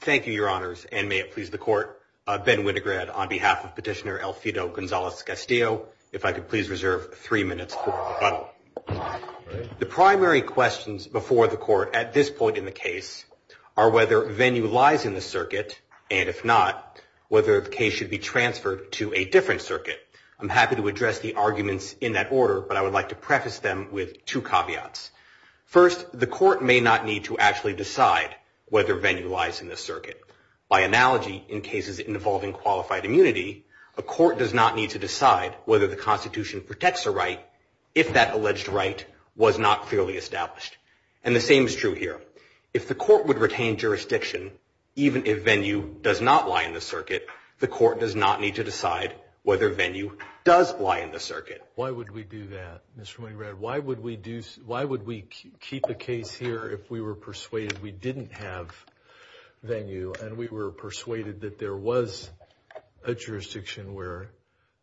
Thank you, your honors, and may it please the court, Ben Winograd on behalf of Petitioner-Elfido The primary questions before the court at this point in the case are whether Venue lies in the circuit, and if not, whether the case should be transferred to a different circuit. I'm happy to address the arguments in that order, but I would like to preface them with two caveats. First, the court may not need to actually decide whether Venue lies in the circuit. By analogy, in cases involving qualified immunity, a court does not need to decide whether the Constitution protects a right if that alleged right was not clearly established. And the same is true here. If the court would retain jurisdiction, even if Venue does not lie in the circuit, the court does not need to decide whether Venue does lie in the circuit. Why would we do that, Mr. Winograd? Why would we keep a case here if we were persuaded we didn't have Venue, and we were persuaded that there was a jurisdiction where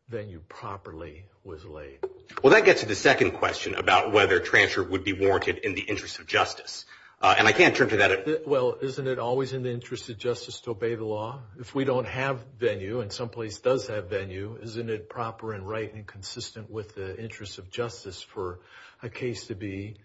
Venue properly was laid? Well, that gets to the second question about whether transfer would be warranted in the interest of justice, and I can't turn to that. Well, isn't it always in the interest of justice to obey the law? If we don't have Venue, and some place does have Venue, isn't it proper and right and consistent with the interests of justice for a case to be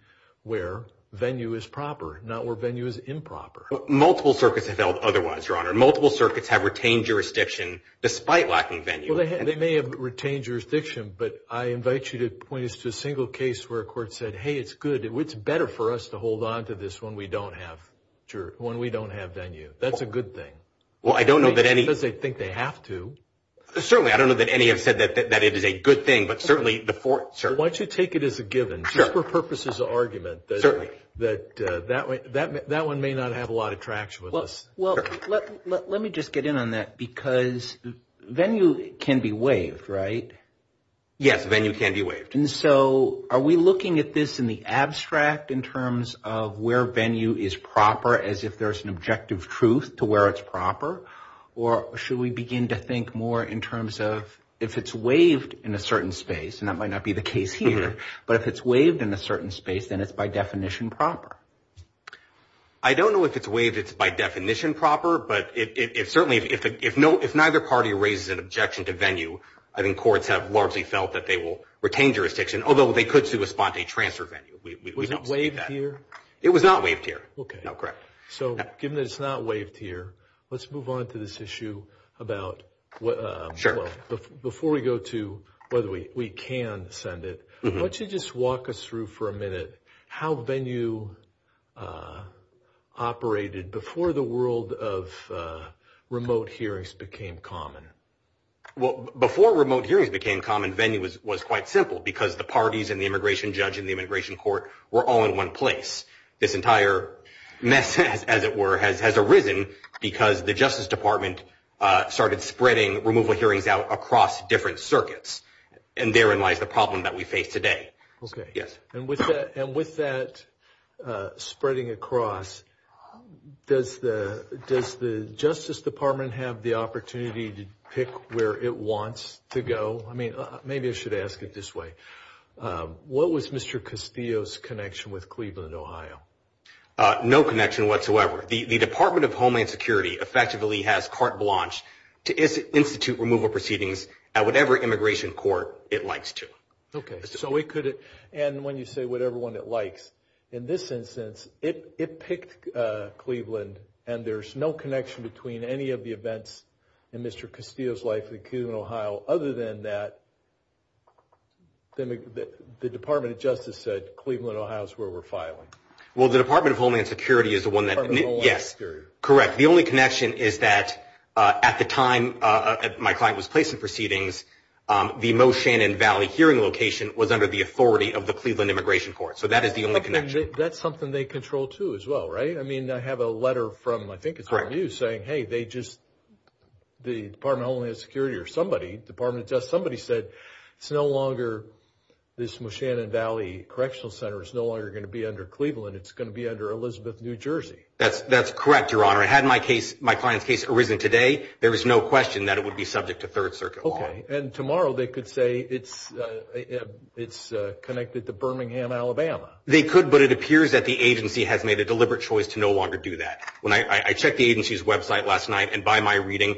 where Venue is proper, not where Venue is improper? Multiple circuits have held otherwise, Your Honor. Multiple circuits have retained jurisdiction despite lacking Venue. Well, they may have retained jurisdiction, but I invite you to point us to a single case where a court said, hey, it's good. It's better for us to hold on to this one when we don't have Venue. That's a good thing. Well, I don't know that any... Because they think they have to. Certainly, I don't know that any have said that it is a good thing, but certainly the four... Why don't you take it as a given? Just for purposes of argument. Certainly. That one may not have a lot of traction with us. Well, let me just get in on that because Venue can be waived, right? Yes, Venue can be waived. And so are we looking at this in the abstract in terms of where Venue is proper as if there's an objective truth to where it's proper? Or should we begin to think more in terms of if it's waived in a certain space, and that might not be the case here, but if it's waived in a certain space, then it's by definition proper. I don't know if it's waived if it's by definition proper, but certainly if neither party raises an objection to Venue, I think courts have largely felt that they will retain jurisdiction, although they could still respond to a transfer Venue. Was it waived here? It was not waived here. Okay. No, correct. So given that it's not waived here, let's move on to this issue about... Sure. Before we go to... By the way, we can send it. Why don't you just walk us through for a minute how Venue operated before the world of remote hearings became common? Well, before remote hearings became common, Venue was quite simple because the parties and the immigration judge and the immigration court were all in one place. This entire mess, as it were, has arisen because the Justice Department started spreading remote hearings out across different circuits, and therein lies the problem that we face today. Okay. Yes. And with that spreading across, does the Justice Department have the opportunity to pick where it wants to go? I mean, maybe I should ask it this way. What was Mr. Castillo's connection with Cleveland, Ohio? No connection whatsoever. The Department of Homeland Security effectively has carte blanche to institute removal proceedings at whatever immigration court it likes to. Okay. The Department of Justice said Cleveland, Ohio is where we're filing. Well, the Department of Homeland Security is the one that... Department of Homeland Security. Yes. Correct. The only connection is that at the time my client was placed in proceedings, the Moe Shannon Valley hearing location was under the authority of the Cleveland Immigration Court. So that is the only connection. That's something they control too as well, right? I mean, I have a letter from, I think it's Venue, saying, hey, they just... Somebody, Department of Justice, somebody said it's no longer this Moe Shannon Valley Correctional Center is no longer going to be under Cleveland. It's going to be under Elizabeth, New Jersey. That's correct, Your Honor. Had my client's case arisen today, there is no question that it would be subject to Third Circuit law. Okay. And tomorrow they could say it's connected to Birmingham, Alabama. They could, but it appears that the agency has made a deliberate choice to no longer do that. When I checked the agency's website last night, and by my reading,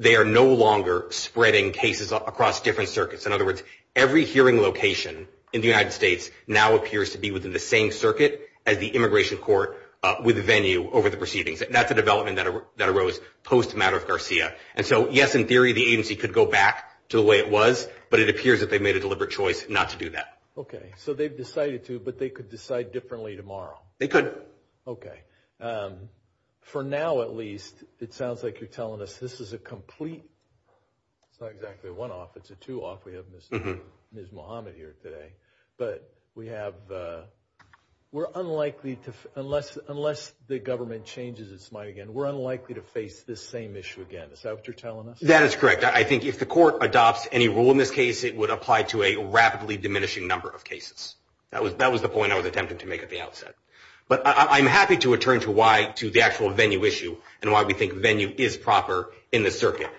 they are no longer spreading cases across different circuits. In other words, every hearing location in the United States now appears to be within the same circuit as the Immigration Court with Venue over the proceedings. And that's a development that arose post-Maddox Garcia. And so, yes, in theory the agency could go back to the way it was, but it appears that they've made a deliberate choice not to do that. Okay. So they've decided to, but they could decide differently tomorrow. They could. Okay. For now, at least, it sounds like you're telling us this is a complete, not exactly a one-off, it's a two-off. We have Ms. Muhammad here today. But we have, we're unlikely to, unless the government changes its mind again, we're unlikely to face this same issue again. Is that what you're telling us? That is correct. I think if the court adopts any rule in this case, it would apply to a rapidly diminishing number of cases. That was the point I was attempting to make at the outset. But I'm happy to return to why, to the actual venue issue, and why we think venue is proper in this circuit.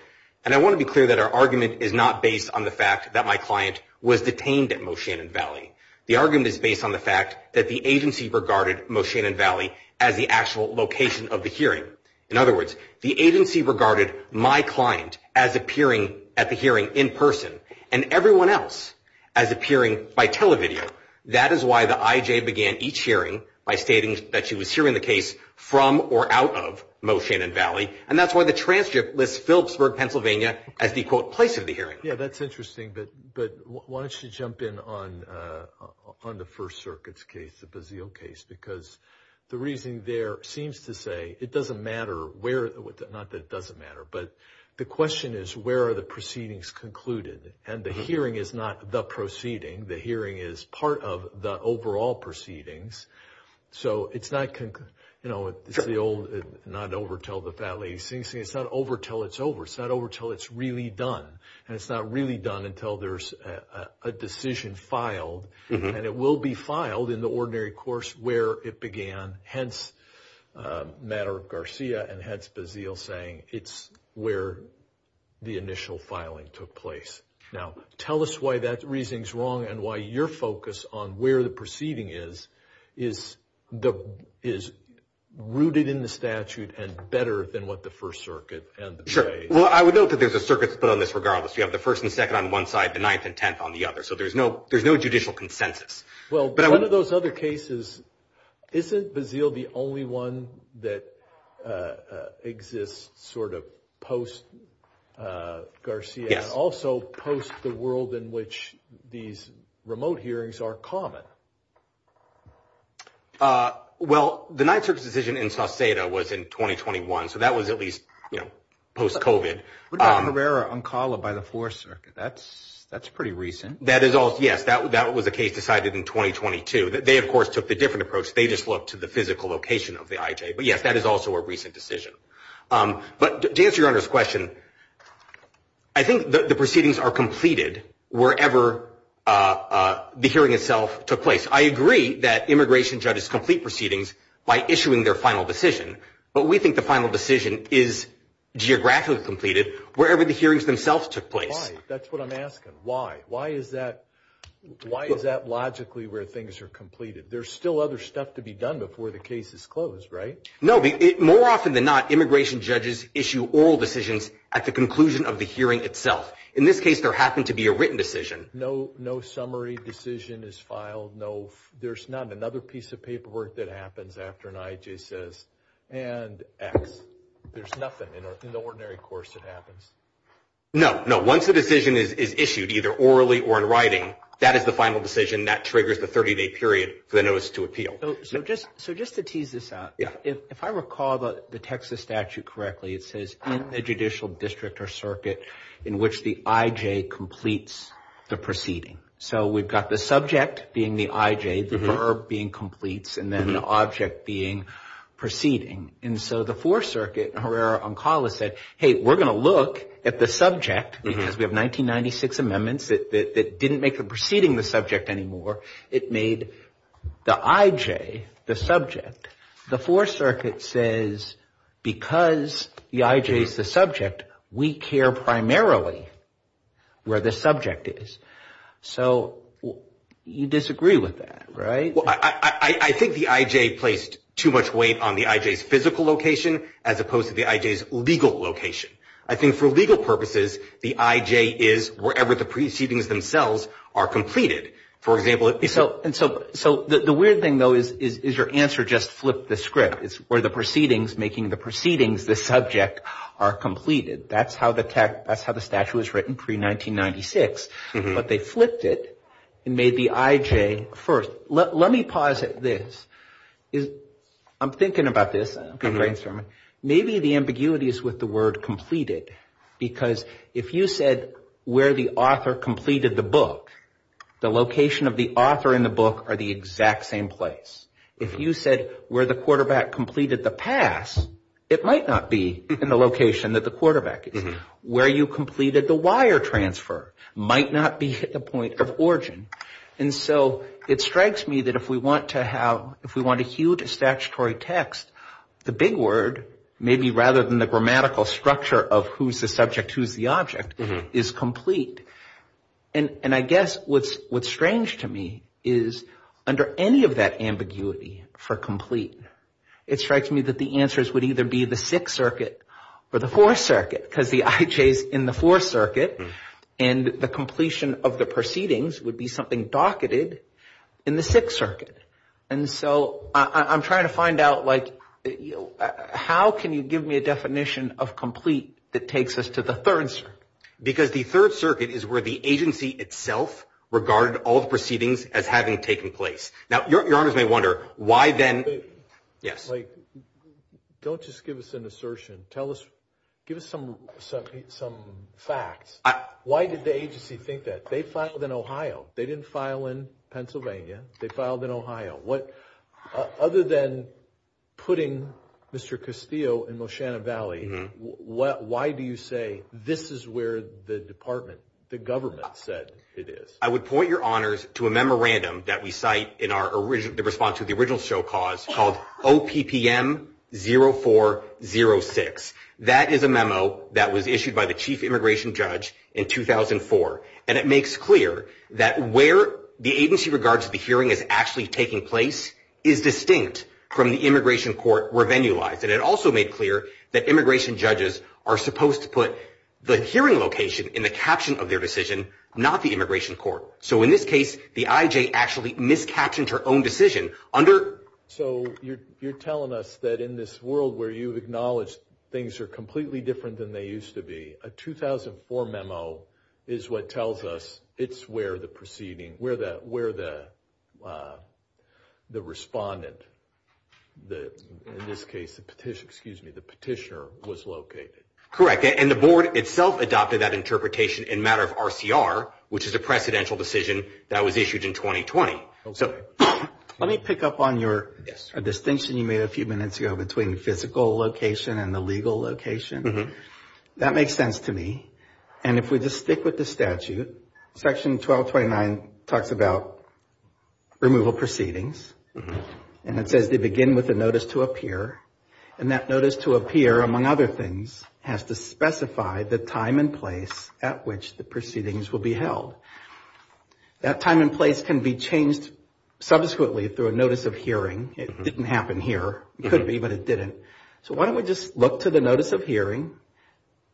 And I want to be clear that our argument is not based on the fact that my client was detained at Moshannon Valley. The argument is based on the fact that the agency regarded Moshannon Valley as the actual location of the hearing. In other words, the agency regarded my client as appearing at the hearing in person, and everyone else as appearing by television. That is why the IJ began each hearing by stating that she was hearing the case from or out of Moshannon Valley. And that's why the transcript lists Phillipsburg, Pennsylvania, as the, quote, place of the hearing. Yeah, that's interesting. But why don't you jump in on the First Circuit's case, the Bazille case, because the reason there seems to say it doesn't matter where, not that it doesn't matter, but the question is where are the proceedings concluded? And the hearing is not the proceeding. The hearing is part of the overall proceedings. So it's not, you know, the old not over till the fat lady sings. It's not over till it's over. It's not over till it's really done. And it's not really done until there's a decision filed. And it will be filed in the ordinary course where it began, hence matter of Garcia, and hence Bazille saying it's where the initial filing took place. Now, tell us why that reasoning is wrong and why your focus on where the proceeding is is rooted in the statute and better than what the First Circuit and the case. Sure. Well, I would note that there's a circuit split on this regardless. You have the first and second on one side, the ninth and tenth on the other. So there's no judicial consensus. Well, one of those other cases, isn't Bazille the only one that exists sort of post-Garcia? Also post the world in which these remote hearings are common. Well, the Ninth Circuit's decision in Sauceda was in 2021. So that was at least post-COVID. What about Herrera-Oncala by the Fourth Circuit? That's pretty recent. That is also, yes, that was a case decided in 2022. They, of course, took a different approach. They just looked to the physical location of the IJ. But, yes, that is also a recent decision. But to answer your Honor's question, I think the proceedings are completed wherever the hearing itself took place. I agree that immigration judges complete proceedings by issuing their final decision. But we think the final decision is geographically completed wherever the hearings themselves took place. Why? That's what I'm asking. Why? Why is that logically where things are completed? There's still other stuff to be done before the case is closed, right? No. More often than not, immigration judges issue oral decisions at the conclusion of the hearing itself. In this case, there happened to be a written decision. No summary decision is filed. There's none. Another piece of paperwork that happens after an IJ says, and X. There's nothing in the ordinary course that happens. No, no. Once the decision is issued, either orally or in writing, that is the final decision. That triggers the 30-day period for the notice to appeal. So just to tease this out, if I recall the Texas statute correctly, it says, in the judicial district or circuit in which the IJ completes the proceeding. So we've got the subject being the IJ, the verb being completes, and then the object being proceeding. And so the Fourth Circuit, Herrera-Oncala said, hey, we're going to look at the subject, because we have 1996 amendments that didn't make the proceeding the subject anymore. It made the IJ the subject. The Fourth Circuit says, because the IJ is the subject, we care primarily where the subject is. So you disagree with that, right? Well, I think the IJ placed too much weight on the IJ's physical location as opposed to the IJ's legal location. I think for legal purposes, the IJ is wherever the proceedings themselves are completed. So the weird thing, though, is your answer just flipped the script. It's where the proceedings, making the proceedings the subject, are completed. That's how the statute was written pre-1996. But they flipped it and made the IJ first. Let me posit this. I'm thinking about this. Maybe the ambiguity is with the word completed, because if you said where the author completed the book, the location of the author and the book are the exact same place. If you said where the quarterback completed the pass, it might not be in the location that the quarterback is. Where you completed the wire transfer might not be at the point of origin. And so it strikes me that if we want a huge statutory text, the big word, maybe rather than the grammatical structure of who's the subject, who's the object, is complete. And I guess what's strange to me is under any of that ambiguity for complete, it strikes me that the answers would either be the Sixth Circuit or the Fourth Circuit, because the IJ is in the Fourth Circuit, and the completion of the proceedings would be something docketed in the Sixth Circuit. And so I'm trying to find out, like, how can you give me a definition of complete that takes us to the Third Circuit? Because the Third Circuit is where the agency itself regarded all the proceedings as having taken place. Now, your honors may wonder why then – yes? Don't just give us an assertion. Give us some facts. Why did the agency think that? They filed in Ohio. They didn't file in Pennsylvania. They filed in Ohio. Other than putting Mr. Castillo in Loshanna Valley, why do you say this is where the department, the government, said it is? I would point your honors to a memorandum that we cite in the response to the original show cause called OPPM 0406. That is a memo that was issued by the chief immigration judge in 2004, and it makes clear that where the agency regards the hearing as actually taking place is distinct from the immigration court revenue line. And it also made clear that immigration judges are supposed to put the hearing location in the caption of their decision, not the immigration court. So in this case, the IJ actually miscaptioned her own decision under – So you're telling us that in this world where you acknowledge things are completely different than they used to be, a 2004 memo is what tells us it's where the proceeding, where the respondent, in this case the petitioner, was located. Correct, and the board itself adopted that interpretation in matter of RCR, which is a precedential decision that was issued in 2020. Let me pick up on your distinction you made a few minutes ago between physical location and the legal location. That makes sense to me, and if we just stick with the statute, Section 1229 talks about removal proceedings, and it says they begin with a notice to appear, and that notice to appear, among other things, has to specify the time and place at which the proceedings will be held. That time and place can be changed subsequently through a notice of hearing. It didn't happen here. It could be, but it didn't. So why don't we just look to the notice of hearing,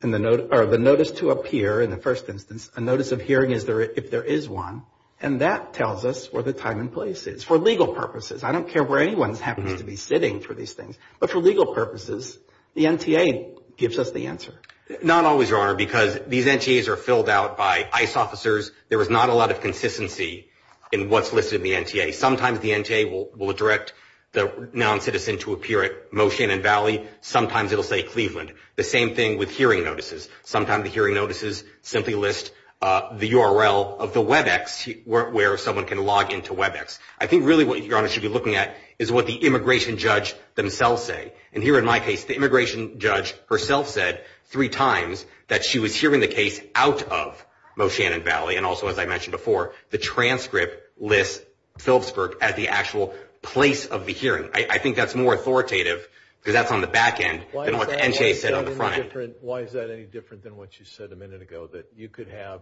or the notice to appear in the first instance, a notice of hearing if there is one, and that tells us where the time and place is, for legal purposes. I don't care where anyone's happening to be sitting for these things, but for legal purposes, the NTA gives us the answer. Not always, Your Honor, because these NTAs are filled out by ICE officers. There is not a lot of consistency in what's listed in the NTA. Sometimes the NTA will direct the non-citizen to appear at Moshannon Valley. Sometimes it will say Cleveland. The same thing with hearing notices. Sometimes the hearing notices simply list the URL of the WebEx where someone can log into WebEx. I think really what Your Honor should be looking at is what the immigration judge themselves say, and here in my case, the immigration judge herself said three times that she was hearing the case out of Moshannon Valley, and also as I mentioned before, the transcript lists Phillipsburg as the actual place of the hearing. I think that's more authoritative because that's on the back end than what the NTA said on the front end. Why is that any different than what you said a minute ago, that you could have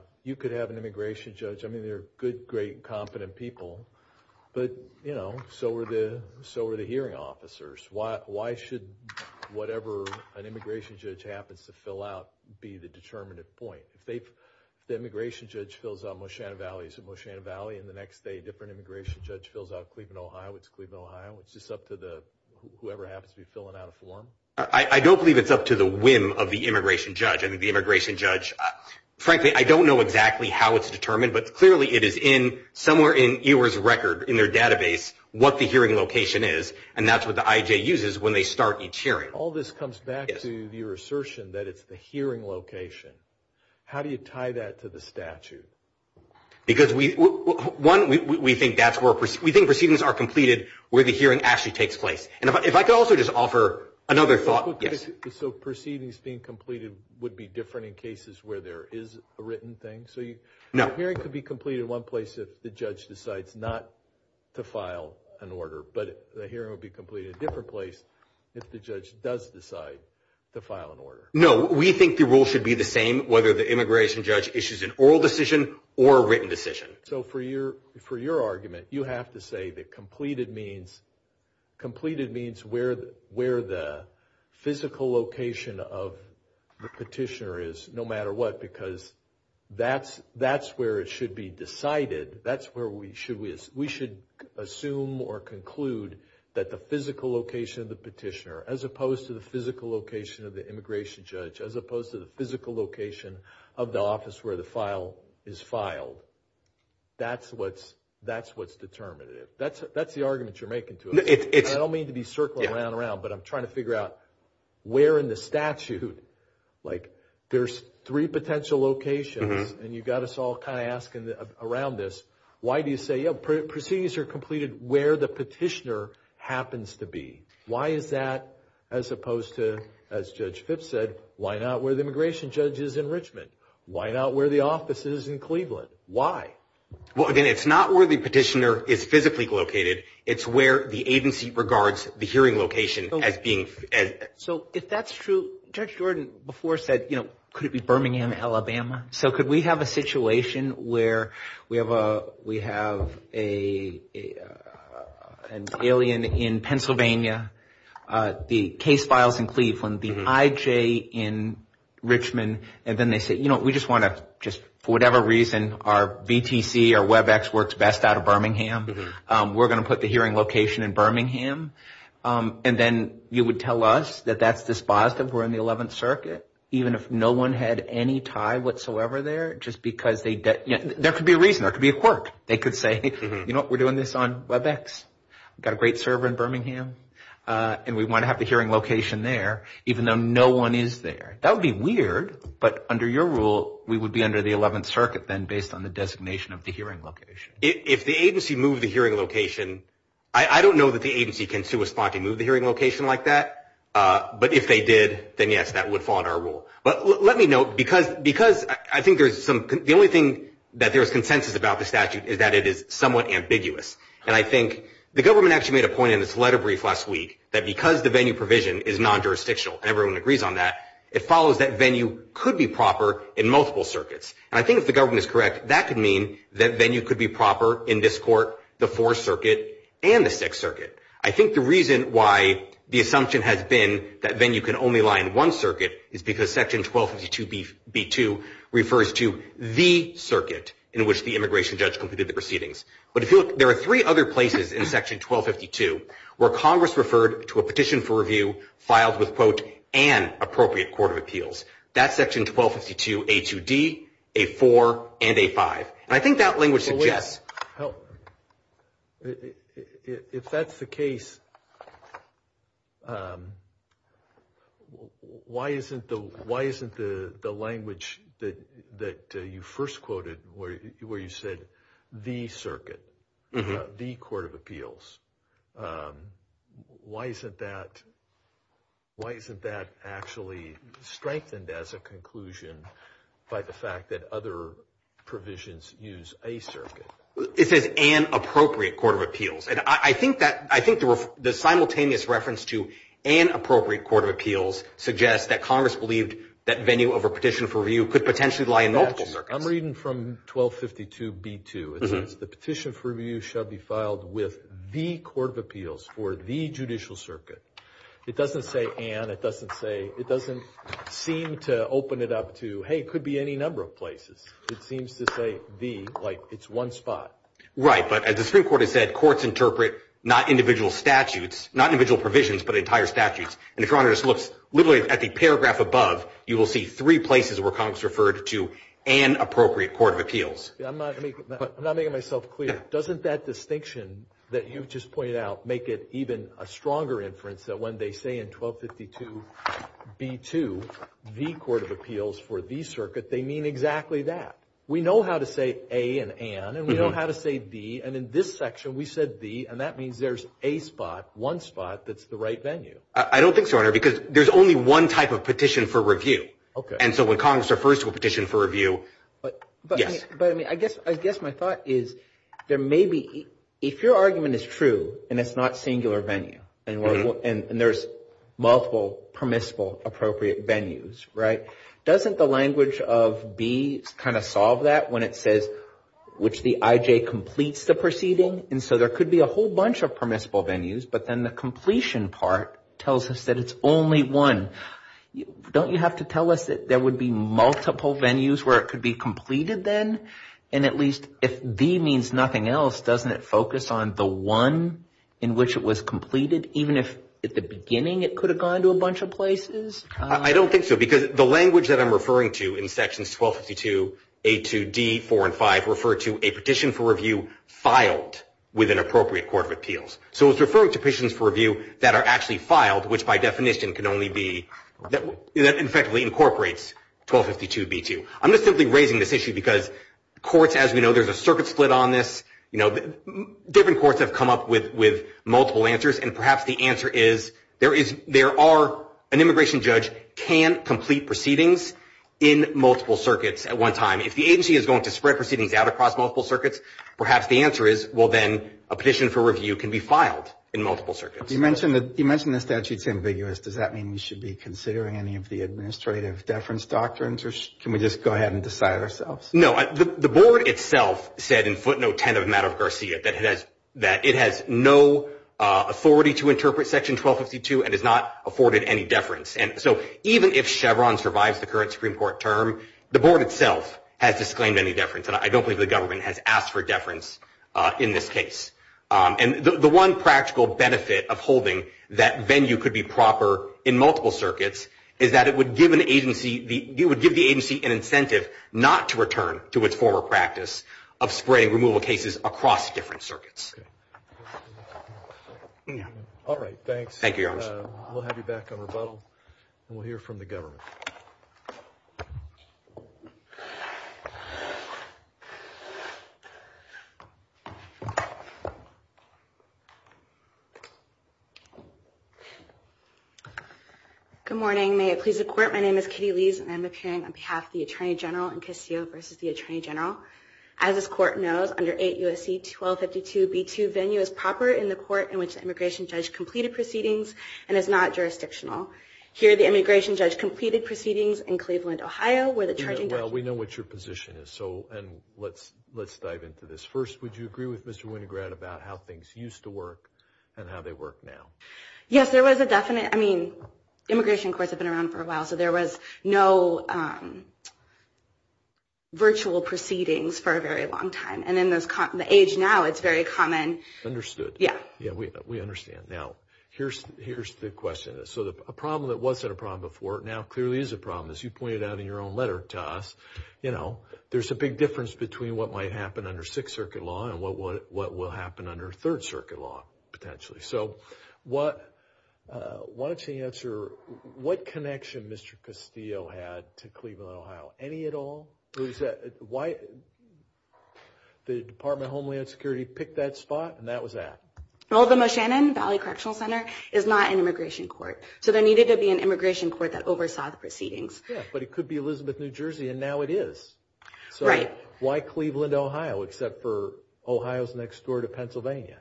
an immigration judge? I mean, they're good, great, and competent people, but, you know, so are the hearing officers. Why should whatever an immigration judge happens to fill out be the determinative point? The immigration judge fills out Moshannon Valley, so Moshannon Valley, and the next day a different immigration judge fills out Cleveland, Ohio. It's Cleveland, Ohio. It's just up to whoever happens to be filling out a form. I don't believe it's up to the whim of the immigration judge. I mean, the immigration judge, frankly, I don't know exactly how it's determined, but clearly it is somewhere in EOR's record in their database what the hearing location is, and that's what the IJ uses when they start each hearing. All this comes back to your assertion that it's the hearing location. How do you tie that to the statute? Because, one, we think proceedings are completed where the hearing actually takes place. If I could also just offer another thought. So proceedings being completed would be different in cases where there is a written thing? No. A hearing could be completed in one place if the judge decides not to file an order, but a hearing would be completed in a different place if the judge does decide to file an order. No. We think the rule should be the same whether the immigration judge issues an oral decision or a written decision. So for your argument, you have to say that completed means where the physical location of the petitioner is, no matter what, because that's where it should be decided. That's where we should assume or conclude that the physical location of the petitioner, as opposed to the physical location of the immigration judge, as opposed to the physical location of the office where the file is filed, that's what's determinative. That's the argument you're making to us. I don't mean to be circling around and around, but I'm trying to figure out where in the statute, like there's three potential locations, and you've got us all kind of asking around this, why do you say, yeah, proceedings are completed where the petitioner happens to be? Why is that as opposed to, as Judge Fitts said, why not where the immigration judge is in Richmond? Why not where the office is in Cleveland? Why? Well, again, it's not where the petitioner is physically located. It's where the agency regards the hearing location as being. So if that's true, Judge Jordan before said, you know, could it be Birmingham, Alabama? So could we have a situation where we have an alien in Pennsylvania, the case files in Cleveland, the IJ in Richmond, and then they say, you know, we just want to just, for whatever reason, our VTC or WebEx works best out of Birmingham. We're going to put the hearing location in Birmingham, and then you would tell us that that's dispositive we're in the 11th Circuit, even if no one had any tie whatsoever there, just because they, there could be a reason. There could be a quirk. They could say, you know, we're doing this on WebEx. We've got a great server in Birmingham, and we want to have the hearing location there, even though no one is there. That would be weird, but under your rule, we would be under the 11th Circuit then, based on the designation of the hearing location. If the agency moved the hearing location, I don't know that the agency can sue a spot to move the hearing location like that, but if they did, then, yes, that would fall under our rule. But let me note, because I think there's some, the only thing that there is consensus about the statute is that it is somewhat ambiguous, and I think the government actually made a point in its letter brief last week that because the venue provision is non-jurisdictional, and everyone agrees on that, it follows that venue could be proper in multiple circuits. And I think if the government is correct, that could mean that venue could be proper in this court, the Fourth Circuit, and the Sixth Circuit. I think the reason why the assumption has been that venue can only lie in one circuit is because Section 1252B2 refers to the circuit in which the immigration judge completed the proceedings. But if you look, there are three other places in Section 1252 where Congress referred to a petition for review filed with, quote, an appropriate court of appeals. That's Section 1252A2D, A4, and A5. And I think that language suggests. If that's the case, why isn't the language that you first quoted where you said, the circuit, the court of appeals, why isn't that actually strengthened as a conclusion by the fact that other provisions use a circuit? It says an appropriate court of appeals. And I think the simultaneous reference to an appropriate court of appeals suggests that Congress believed that venue over petition for review could potentially lie in multiple circuits. I'm reading from 1252B2. It says the petition for review shall be filed with the court of appeals for the judicial circuit. It doesn't say an. It doesn't seem to open it up to, hey, it could be any number of places. It seems to say the, like it's one spot. Right, but as the Supreme Court has said, courts interpret not individual statutes, not individual provisions, but entire statutes. And if you look literally at the paragraph above, you will see three places where Congress referred to an appropriate court of appeals. I'm not making myself clear. Doesn't that distinction that you've just pointed out make it even a stronger inference that when they say in 1252B2, the court of appeals for the circuit, they mean exactly that? We know how to say a and an, and we know how to say the, and in this section we said the, and that means there's a spot, one spot, that's the right venue. I don't think so, Your Honor, because there's only one type of petition for review. And so when Congress refers to a petition for review, yes. But, I mean, I guess my thought is there may be, if your argument is true and it's not singular venue and there's multiple permissible appropriate venues, right, doesn't the language of B kind of solve that when it says which the IJ completes the proceeding? And so there could be a whole bunch of permissible venues, but then the completion part tells us that it's only one. Don't you have to tell us that there would be multiple venues where it could be completed then? And at least if D means nothing else, doesn't it focus on the one in which it was completed, even if at the beginning it could have gone to a bunch of places? I don't think so, because the language that I'm referring to in sections 1252A2D4 and 5 refer to a petition for review filed with an appropriate court of appeals. So it's referring to petitions for review that are actually filed, which by definition can only be – that effectively incorporates 1252B2. I'm just simply raising this issue because courts, as we know, there's a circuit split on this. Different courts have come up with multiple answers, and perhaps the answer is there are – an immigration judge can complete proceedings in multiple circuits at one time. If the agency is going to spread proceedings out across multiple circuits, perhaps the answer is, well, then, a petition for review can be filed in multiple circuits. You mentioned the statute's ambiguous. Does that mean we should be considering any of the administrative deference doctrines, or can we just go ahead and decide ourselves? No, the board itself said in footnote 10 of Maddox-Garcia that it has no authority to interpret section 1252 and has not afforded any deference. Even if Chevron survives the current Supreme Court term, the board itself has disclaimed any deference, and I don't think the government has asked for deference in this case. The one practical benefit of holding that venue could be proper in multiple circuits is that it would give the agency an incentive not to return to its former practice of spreading removal cases across different circuits. All right, thanks. Thank you, Your Honor. We'll have you back on rebuttal, and we'll hear from the government. Good morning. May it please the Court, my name is Kitty Lees, and I'm appearing on behalf of the Attorney General in Castillo v. the Attorney General. As this Court knows, under 8 U.S.C. 1252b2, venue is proper in the court in which the immigration judge completed proceedings and is not jurisdictional. Here, the immigration judge completed proceedings in Cleveland, Ohio, where the Attorney General Well, we know what your position is, so let's dive into this. First, would you agree with Mr. Winograd about how things used to work and how they work now? Yes, there was a definite, I mean, immigration courts have been around for a while, so there was no virtual proceedings for a very long time, and in the age now, it's very common. Understood. Yeah. Yeah, we understand. Now, here's the question. So, a problem that wasn't a problem before now clearly is a problem. As you pointed out in your own letter to us, you know, there's a big difference between what might happen under Sixth Circuit law and what will happen under Third Circuit law, potentially. So, why don't you answer what connection Mr. Castillo had to Cleveland, Ohio? Any at all? The Department of Homeland Security picked that spot, and that was that. Well, the Moshannon Valley Correctional Center is not an immigration court, so there needed to be an immigration court that oversaw the proceedings. Yeah, but it could be Elizabeth, New Jersey, and now it is. Right. So, why Cleveland, Ohio, except for Ohio's next door to Pennsylvania?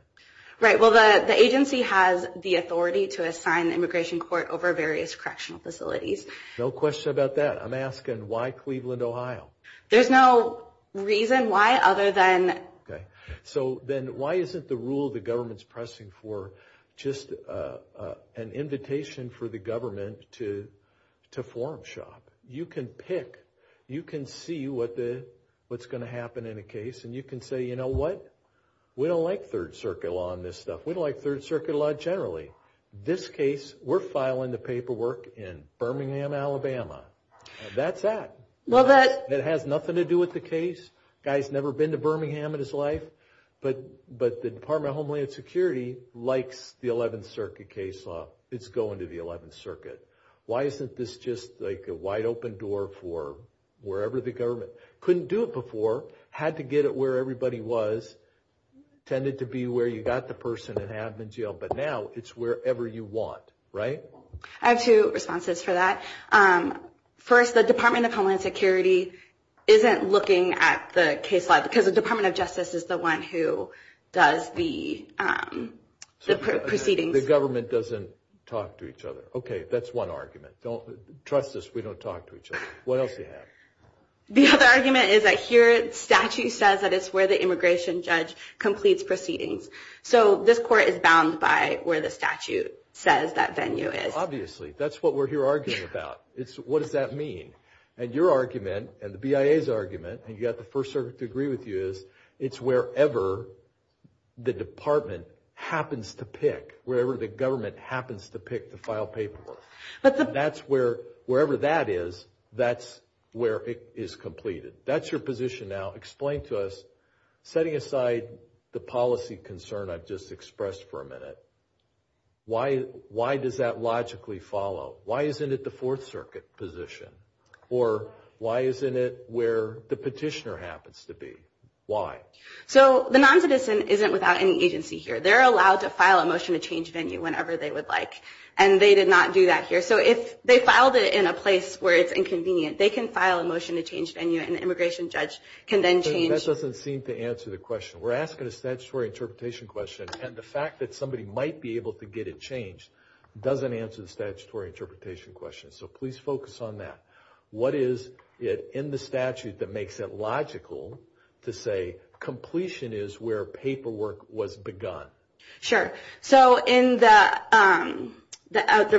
Right. Well, the agency has the authority to assign the immigration court over various correctional facilities. No question about that. I'm asking, why Cleveland, Ohio? There's no reason why other than— Okay. So, then why isn't the rule the government's pressing for just an invitation for the government to form shop? You can pick. You can see what's going to happen in a case, and you can say, you know what? We don't like Third Circuit law on this stuff. We don't like Third Circuit law generally. This case, we're filing the paperwork in Birmingham, Alabama, and that's that. Well, that— It has nothing to do with the case. Guy's never been to Birmingham in his life, but the Department of Homeland Security likes the 11th Circuit case law. It's going to the 11th Circuit. Why isn't this just like a wide-open door for wherever the government—couldn't do it before, had to get it where everybody was, tended to be where you got the person and have them in jail, but now it's wherever you want, right? I have two responses for that. First, the Department of Homeland Security isn't looking at the case law because the Department of Justice is the one who does the proceedings. The government doesn't talk to each other. Okay, that's one argument. Don't—trust us, we don't talk to each other. What else do you have? The other argument is that here, statute says that it's where the immigration judge completes proceedings. So this court is bound by where the statute says that venue is. Obviously. That's what we're here arguing about. What does that mean? And your argument, and the BIA's argument, and you've got the First Circuit to agree with you, is it's wherever the department happens to pick, wherever the government happens to pick to file paperwork. That's where—wherever that is, that's where it is completed. That's your position now. Explain to us, setting aside the policy concern I've just expressed for a minute, why does that logically follow? Why isn't it the Fourth Circuit position? Or why isn't it where the petitioner happens to be? Why? So the non-petition isn't without any agency here. They're allowed to file a motion to change venue whenever they would like, and they did not do that here. So they filed it in a place where it's inconvenient. They can file a motion to change venue, and the immigration judge can then change— That doesn't seem to answer the question. We're asking a statutory interpretation question, and the fact that somebody might be able to get it changed doesn't answer the statutory interpretation question. So please focus on that. What is it in the statute that makes it logical to say completion is where paperwork was begun? Sure. So in the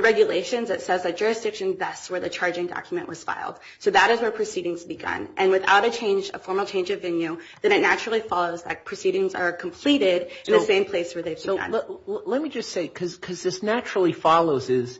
regulations, it says that jurisdiction is best where the charging document was filed. So that is where proceedings began, and without a formal change of venue, then it naturally follows that proceedings are completed in the same place where they began. Let me just say, because this naturally follows, it's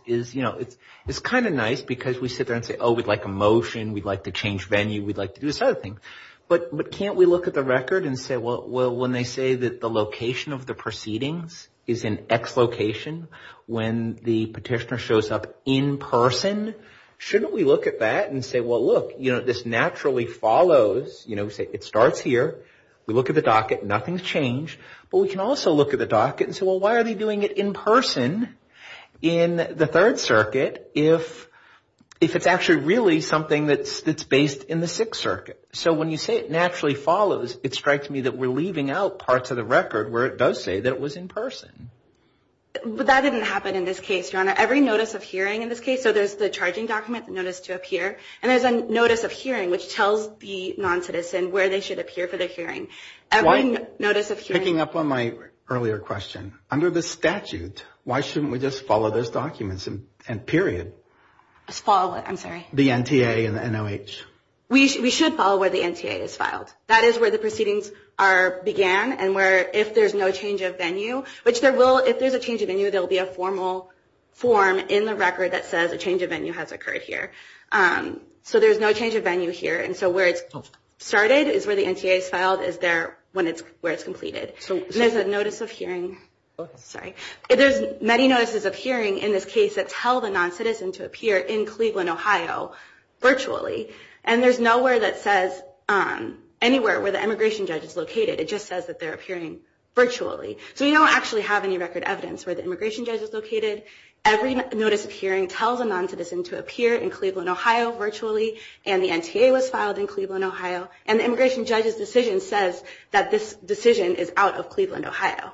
kind of nice because we sit there and say, oh, we'd like a motion, we'd like to change venue, we'd like to do this other thing. But can't we look at the record and say, well, when they say that the location of the proceedings is in X location, when the petitioner shows up in person, shouldn't we look at that and say, well, look, this naturally follows. It starts here. We look at the docket. Nothing's changed. But we can also look at the docket and say, well, why are they doing it in person in the Third Circuit if it's actually really something that's based in the Sixth Circuit? So when you say it naturally follows, it strikes me that we're leaving out parts of the record where it does say that it was in person. That didn't happen in this case, Your Honor. Every notice of hearing in this case, so there's the charging document notice to appear, and there's a notice of hearing which tells the non-citizen where they should appear for the hearing. Picking up on my earlier question, under the statute, why shouldn't we just follow those documents, period? Follow, I'm sorry. The NTA and the NOH. We should follow where the NTA is filed. That is where the proceedings began and where, if there's no change of venue, which there will, if there's a change of venue, there will be a formal form in the record that says a change of venue has occurred here. So there's no change of venue here, and so where it started is where the NTA is filed is where it's completed. So there's a notice of hearing. There's many notices of hearing in this case that tell the non-citizen to appear in Cleveland, Ohio, virtually, and there's nowhere that says anywhere where the immigration judge is located. It just says that they're appearing virtually. So we don't actually have any record evidence where the immigration judge is located. Every notice of hearing tells a non-citizen to appear in Cleveland, Ohio, virtually, and the NTA was filed in Cleveland, Ohio, and the immigration judge's decision says that this decision is out of Cleveland, Ohio.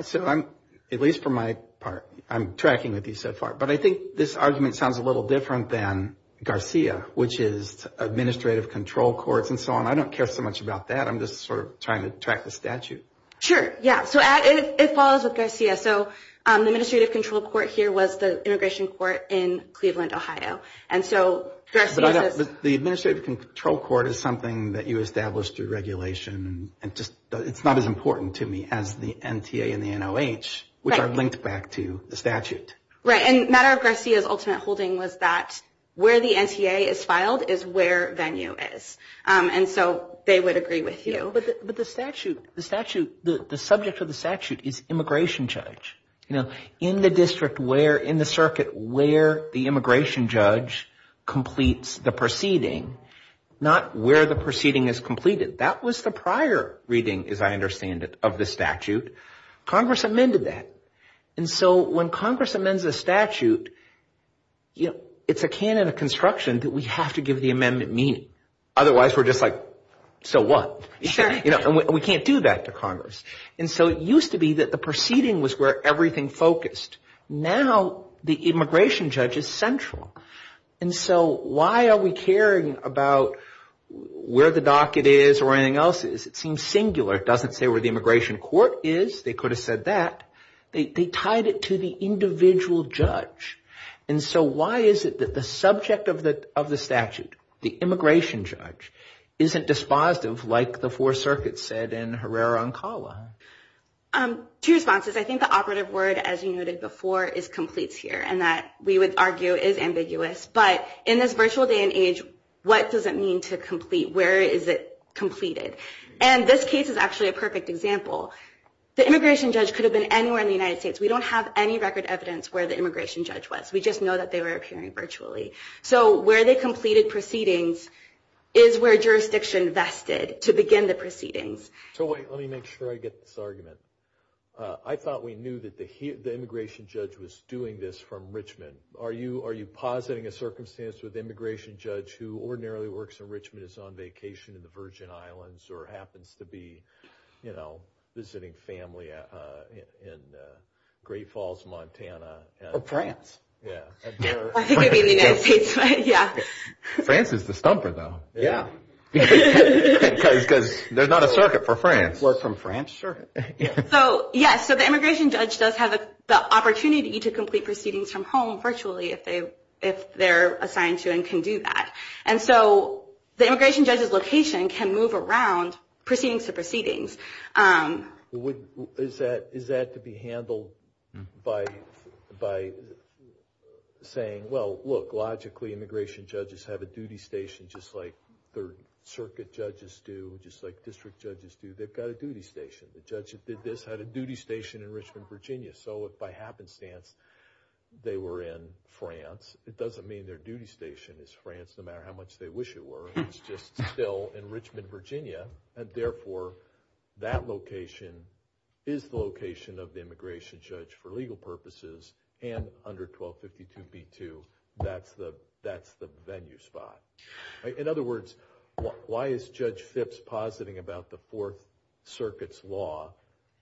So I'm, at least for my part, I'm tracking with you so far, but I think this argument sounds a little different than Garcia, which is administrative control courts and so on. I don't care so much about that. I'm just sort of trying to track the statute. Sure, yeah. So it follows with Garcia. So the administrative control court here was the immigration court in Cleveland, Ohio. The administrative control court is something that you established through regulation. It's not as important to me as the NTA and the NOH, which I've linked back to the statute. Right, and matter of Garcia's ultimate holding was that where the NTA is filed is where Venue is, and so they would agree with you. But the statute, the subject of the statute is immigration judge. In the district where, in the circuit where the immigration judge completes the proceeding, not where the proceeding is completed. That was the prior reading, as I understand it, of the statute. Congress amended that, and so when Congress amends a statute, it's a canon of construction that we have to give the amendment meaning. Otherwise, we're just like, so what? We can't do that to Congress. And so it used to be that the proceeding was where everything focused. Now, the immigration judge is central. And so why are we caring about where the docket is or anything else is? It seems singular. It doesn't say where the immigration court is. They could have said that. They tied it to the individual judge. And so why is it that the subject of the statute, the immigration judge, isn't dispositive, like the Fourth Circuit said in Herrera-Oncala? Two responses. I think the operative word, as you noted before, is completes here, and that, we would argue, is ambiguous. But in this virtual day and age, what does it mean to complete? Where is it completed? And this case is actually a perfect example. The immigration judge could have been anywhere in the United States. We don't have any record evidence where the immigration judge was. We just know that they were appearing virtually. So where they completed proceedings is where jurisdiction vested to begin the proceedings. So let me make sure I get this argument. I thought we knew that the immigration judge was doing this from Richmond. Are you positing a circumstance where the immigration judge who ordinarily works in Richmond is on vacation in the Virgin Islands or happens to be, you know, visiting family in Great Falls, Montana? That's right. I think it would be in the United States. France is the stumper, though. Yeah. Because there's not a circuit for France. What, some France circuit? Yes, so the immigration judge does have the opportunity to complete proceedings from home virtually if they're assigned to and can do that. And so the immigration judge's location can move around proceedings to proceedings. Is that to be handled by saying, well, look, logically, immigration judges have a duty station just like third circuit judges do, just like district judges do. They've got a duty station. The judge that did this had a duty station in Richmond, Virginia. So if by happenstance they were in France, it doesn't mean their duty station is France no matter how much they wish it were. It's just still in Richmond, Virginia. And therefore, that location is the location of the immigration judge for legal purposes and under 1252B2, that's the venue spot. In other words, why is Judge Phipps positing about the fourth circuit's law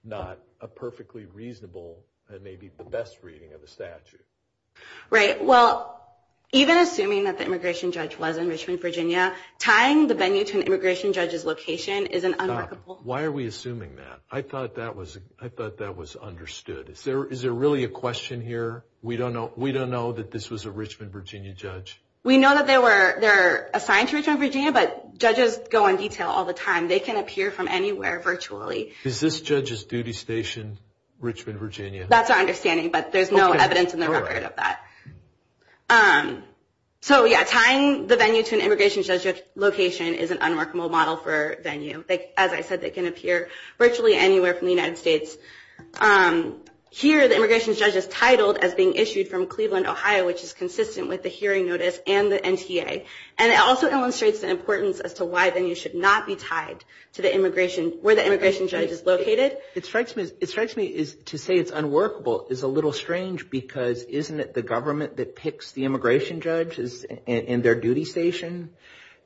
not a perfectly reasonable and maybe the best reading of the statute? Right. Well, even assuming that the immigration judge was in Richmond, Virginia, tying the venue to an immigration judge's location is an unreasonable. Why are we assuming that? I thought that was understood. Is there really a question here? We don't know that this was a Richmond, Virginia judge. We know that they're assigned to Richmond, Virginia, but judges go on detail all the time. They can appear from anywhere virtually. Is this judge's duty station Richmond, Virginia? That's our understanding, but there's no evidence in the record of that. So, yeah, tying the venue to an immigration judge's location is an unworkable model for venue. As I said, they can appear virtually anywhere from the United States. Here, the immigration judge is titled as being issued from Cleveland, Ohio, which is consistent with the hearing notice and the NTA. And it also illustrates the importance as to why venues should not be tied to where the immigration judge is located. It strikes me to say it's unworkable is a little strange because isn't it the government that picks the immigration judge and their duty station?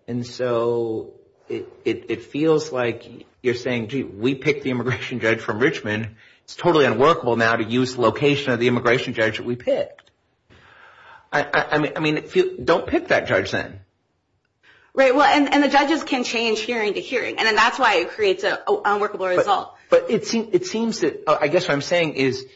And so it feels like you're saying, gee, we picked the immigration judge from Richmond. It's totally unworkable now to use the location of the immigration judge that we picked. I mean, don't pick that judge then. Right. Well, and the judges can change hearing to hearing and then that's why it creates an unworkable result. But it seems that, I guess what I'm saying is,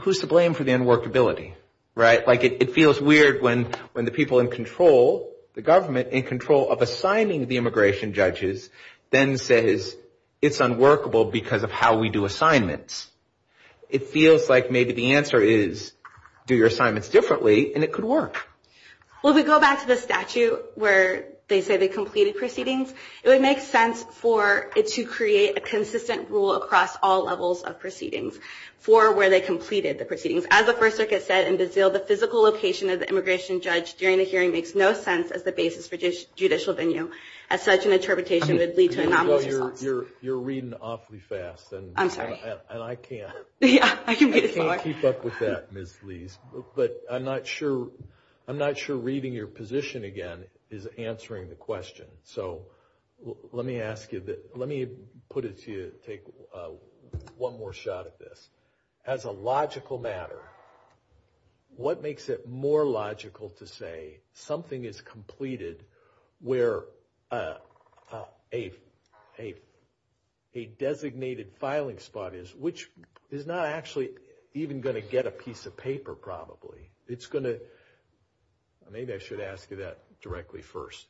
who's to blame for the unworkability? Right. Like it feels weird when the people in control, the government in control of assigning the immigration judges, then says it's unworkable because of how we do assignments. It feels like maybe the answer is do your assignments differently and it could work. Well, we go back to the statute where they say they completed proceedings. It would make sense for it to create a consistent rule across all levels of jurisdiction for where they completed the proceedings. As the First Circuit said in Brazil, the physical location of the immigration judge during the hearing makes no sense as the basis for judicial venue. As such, an interpretation would lead to an anomaly. You're reading awfully fast. I'm sorry. And I can't keep up with that, Ms. Lees. But I'm not sure. I'm not sure reading your position again is answering the question. So let me ask you, let me put it to you, take one more shot at this. As a logical matter, what makes it more logical to say something is completed where a designated filing spot is, which is not actually even going to get a piece of paper probably. It's going to, maybe I should ask you that directly first.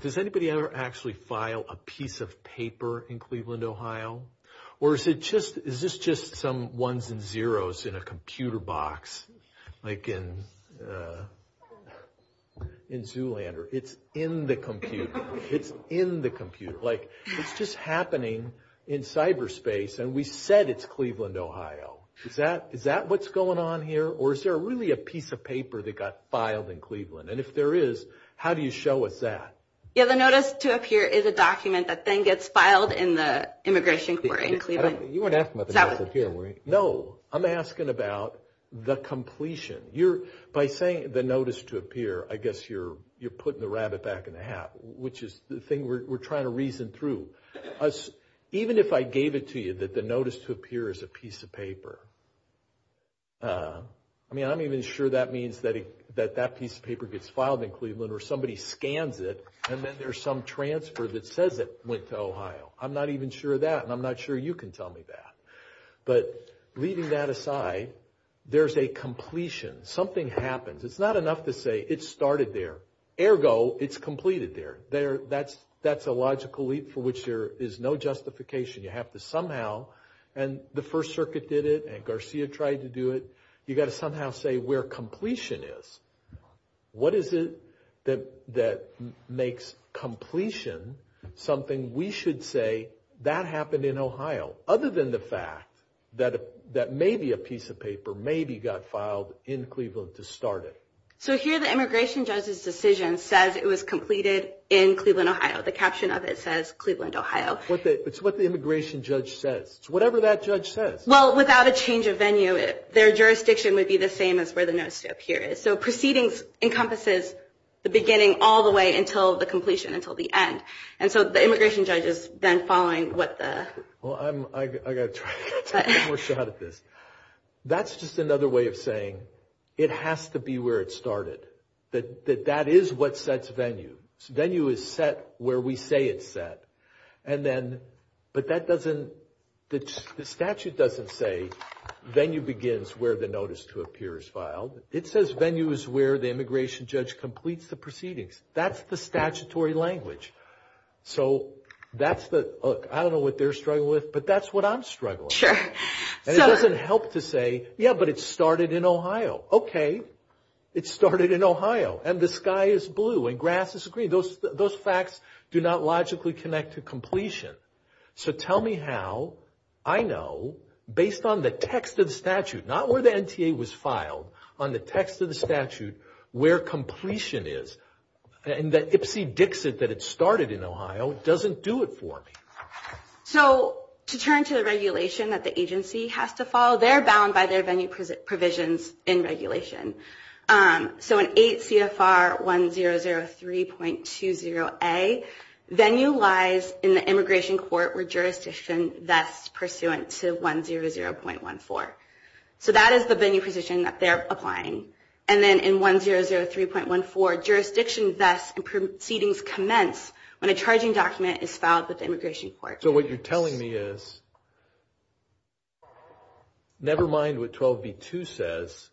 Does anybody ever actually file a piece of paper in Cleveland, Ohio? Or is it just, is this just some ones and zeros in a computer box? Like in Zoolander. It's in the computer. It's in the computer. Like it's just happening in cyberspace. And we said it's Cleveland, Ohio. Is that what's going on here? Or is there really a piece of paper that got filed in Cleveland? And if there is, how do you show us that? Yeah, the notice to appear is a document that then gets filed in the immigration court in Cleveland. You weren't asking about the document here, were you? No, I'm asking about the completion. By saying the notice to appear, I guess you're putting the rabbit back in the hat, which is the thing we're trying to reason through. Even if I gave it to you that the notice to appear is a piece of paper, I mean I'm not even sure that means that that piece of paper gets filed. And then there's some transfer that says it went to Ohio. I'm not even sure that, and I'm not sure you can tell me that. But leaving that aside, there's a completion. Something happens. It's not enough to say it started there. Ergo, it's completed there. That's a logical leap for which there is no justification. You have to somehow, and the First Circuit did it, and Garcia tried to do it. You've got to somehow say where completion is. What is it that makes completion something we should say, that happened in Ohio? Other than the fact that maybe a piece of paper maybe got filed in Cleveland to start it. So here the immigration judge's decision says it was completed in Cleveland, Ohio. The caption of it says Cleveland, Ohio. It's what the immigration judge said. It's whatever that judge said. Well, without a change of venue, their jurisdiction would be the same as where the notice to appear is. So proceedings encompasses the beginning all the way until the completion, until the end. And so the immigration judge is then following what the- Well, I've got to try to get one more shot at this. That's just another way of saying it has to be where it started, that that is what sets venue. Venue is set where we say it's set. And then, the statute doesn't say venue begins where the notice to appear is filed. It says venue is where the immigration judge completes the proceedings. That's the statutory language. So that's the- I don't know what they're struggling with, but that's what I'm struggling with. Sure. And it doesn't help to say, yeah, but it started in Ohio. Okay. It started in Ohio. And the sky is blue and grass is green. So tell me how I know, based on the text of the statute, not where the NTA was filed, on the text of the statute, where completion is. And that Ipsy Dixit that it started in Ohio doesn't do it for me. So to turn to the regulation that the agency has to follow, they're bound by their venue provisions in regulation. So in 8 CFR 1003.20a, venue lies in the immigration court or jurisdiction that's pursuant to 100.14. So that is the venue provision that they're applying. And then in 1003.14, jurisdictions that proceedings commence when a charging document is filed with the immigration court. So what you're telling me is, never mind what 12b2 says,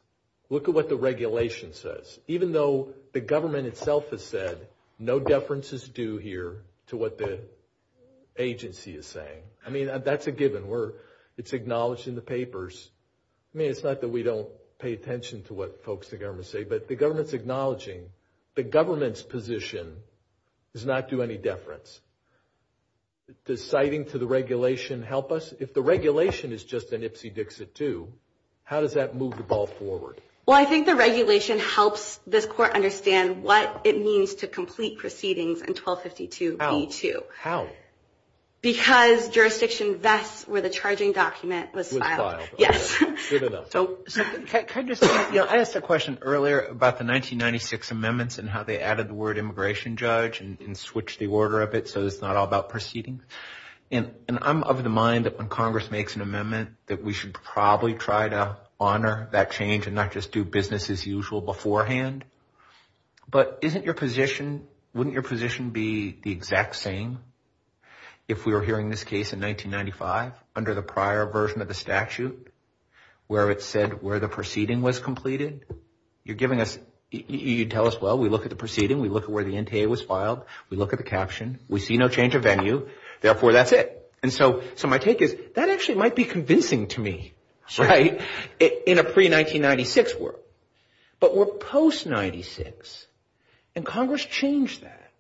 look at what the regulation says. Even though the government itself has said, no deference is due here to what the agency is saying. I mean, that's a given. It's acknowledged in the papers. I mean, it's not that we don't pay attention to what folks in government say, but the government's acknowledging the government's position does not do any deference. Does citing to the regulation help us? If the regulation is just an Ipsy Dixit II, how does that move the ball forward? Well, I think the regulation helps the court understand what it means to complete proceedings in 1252b2. How? Because jurisdictions, that's where the charging document was filed. Yes. So I asked a question earlier about the 1996 amendments and how they added the word immigration judge and switched the order of it so it's not all about proceedings. And I'm of the mind that when Congress makes an amendment, that we should probably try to honor that change and not just do business as usual beforehand. But isn't your position, wouldn't your position be the exact same if we were hearing this case in 1995 under the prior version of the statute where it said where the proceeding was completed? You're giving us, you tell us, well, we look at the proceeding. We look at where the NTA was filed. We look at the caption. We see no change of venue. Therefore, that's it. And so my take is that actually might be convincing to me, right, in a pre-1996 world. But we're post-96, and Congress changed that.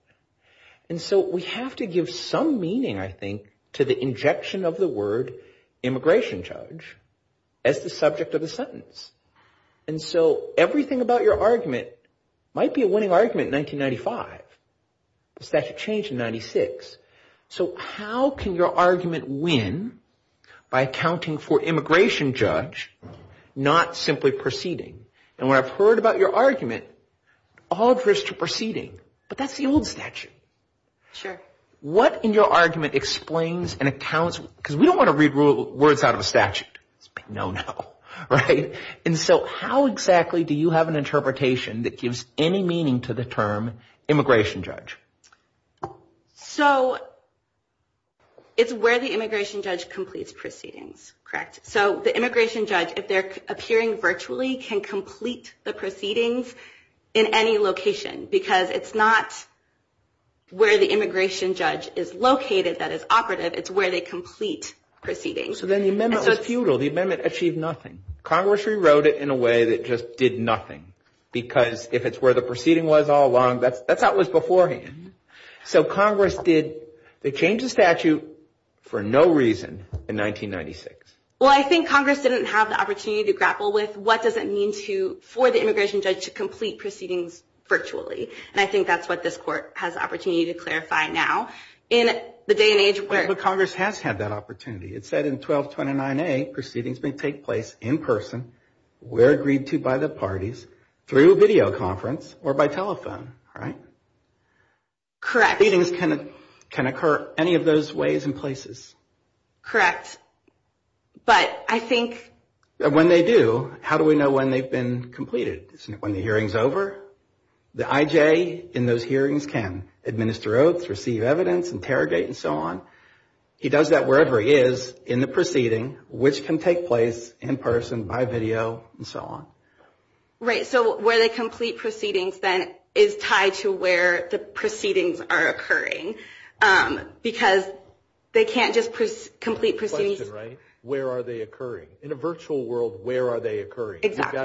And so we have to give some meaning, I think, to the injection of the word immigration judge as the subject of a sentence. And so everything about your argument might be a winning argument in 1995. The statute changed in 96. So how can your argument win by accounting for immigration judge, not simply proceeding? And when I've heard about your argument, all of this is proceeding. But that's the old statute. Sure. What in your argument explains and accounts, because we don't want to read words out of a statute. No, no. Right? And so how exactly do you have an interpretation that gives any meaning to the term immigration judge? So it's where the immigration judge completes proceedings. Correct. So the immigration judge, if they're appearing virtually, can complete the proceedings in any location, because it's not where the immigration judge is located that is operative. It's where they complete proceedings. So then the amendment was futile. The amendment achieved nothing. Congress rewrote it in a way that just did nothing, because if it's where the proceeding was all along, that thought was beforehand. So Congress did the change of statute for no reason in 1996. Well, I think Congress didn't have the opportunity to grapple with what does it mean for the immigration judge to complete proceedings virtually. And I think that's what this court has the opportunity to clarify now. In the day and age where— Well, Congress has had that opportunity. It said in 1229A, proceedings may take place in person, where agreed to by the parties, through videoconference or by telephone, right? Correct. Proceedings can occur any of those ways and places. Correct. But I think— When they do, how do we know when they've been completed? Isn't it when the hearing's over? The I.J. in those hearings can administer oaths, receive evidence, interrogate, and so on. He does that wherever he is in the proceeding, which can take place in person, by video, and so on. Right. So where they complete proceedings, then, is tied to where the proceedings are occurring, because they can't just complete proceedings— Question, right? Where are they occurring? In a virtual world, where are they occurring? Exactly.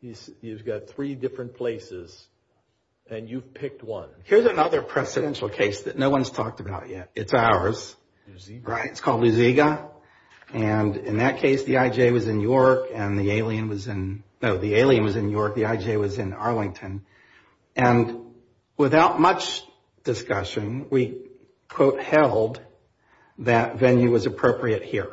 He's got three different places, and you've picked one. Here's another presidential case that no one's talked about yet. It's ours. It's called the Ziga. And in that case, the I.J. was in New York, and the alien was in—no, the alien was in New York, the I.J. was in Arlington. And without much discussion, we, quote, held that venue was appropriate here.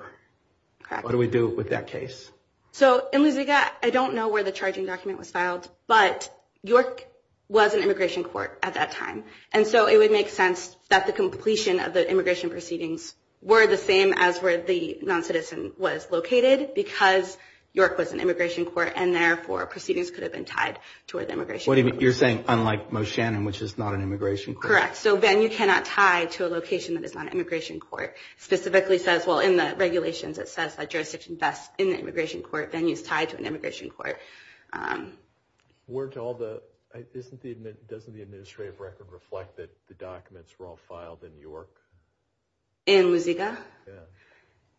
What do we do with that case? So in the Ziga, I don't know where the charging document was filed, but New York was an immigration court at that time. And so it would make sense that the completion of the where the non-citizen was located, because York was an immigration court, and, therefore, proceedings could have been tied toward the immigration court. Wait a minute. You're saying, unlike Moe Shannon, which is not an immigration court? Correct. So venue cannot tie to a location that is not an immigration court. Specifically says—well, in the regulations, it says that jurisdiction vests in an immigration court. Venue is tied to an immigration court. Weren't all the—doesn't the administrative record reflect that the documents were all filed in York? In the Ziga? Yeah.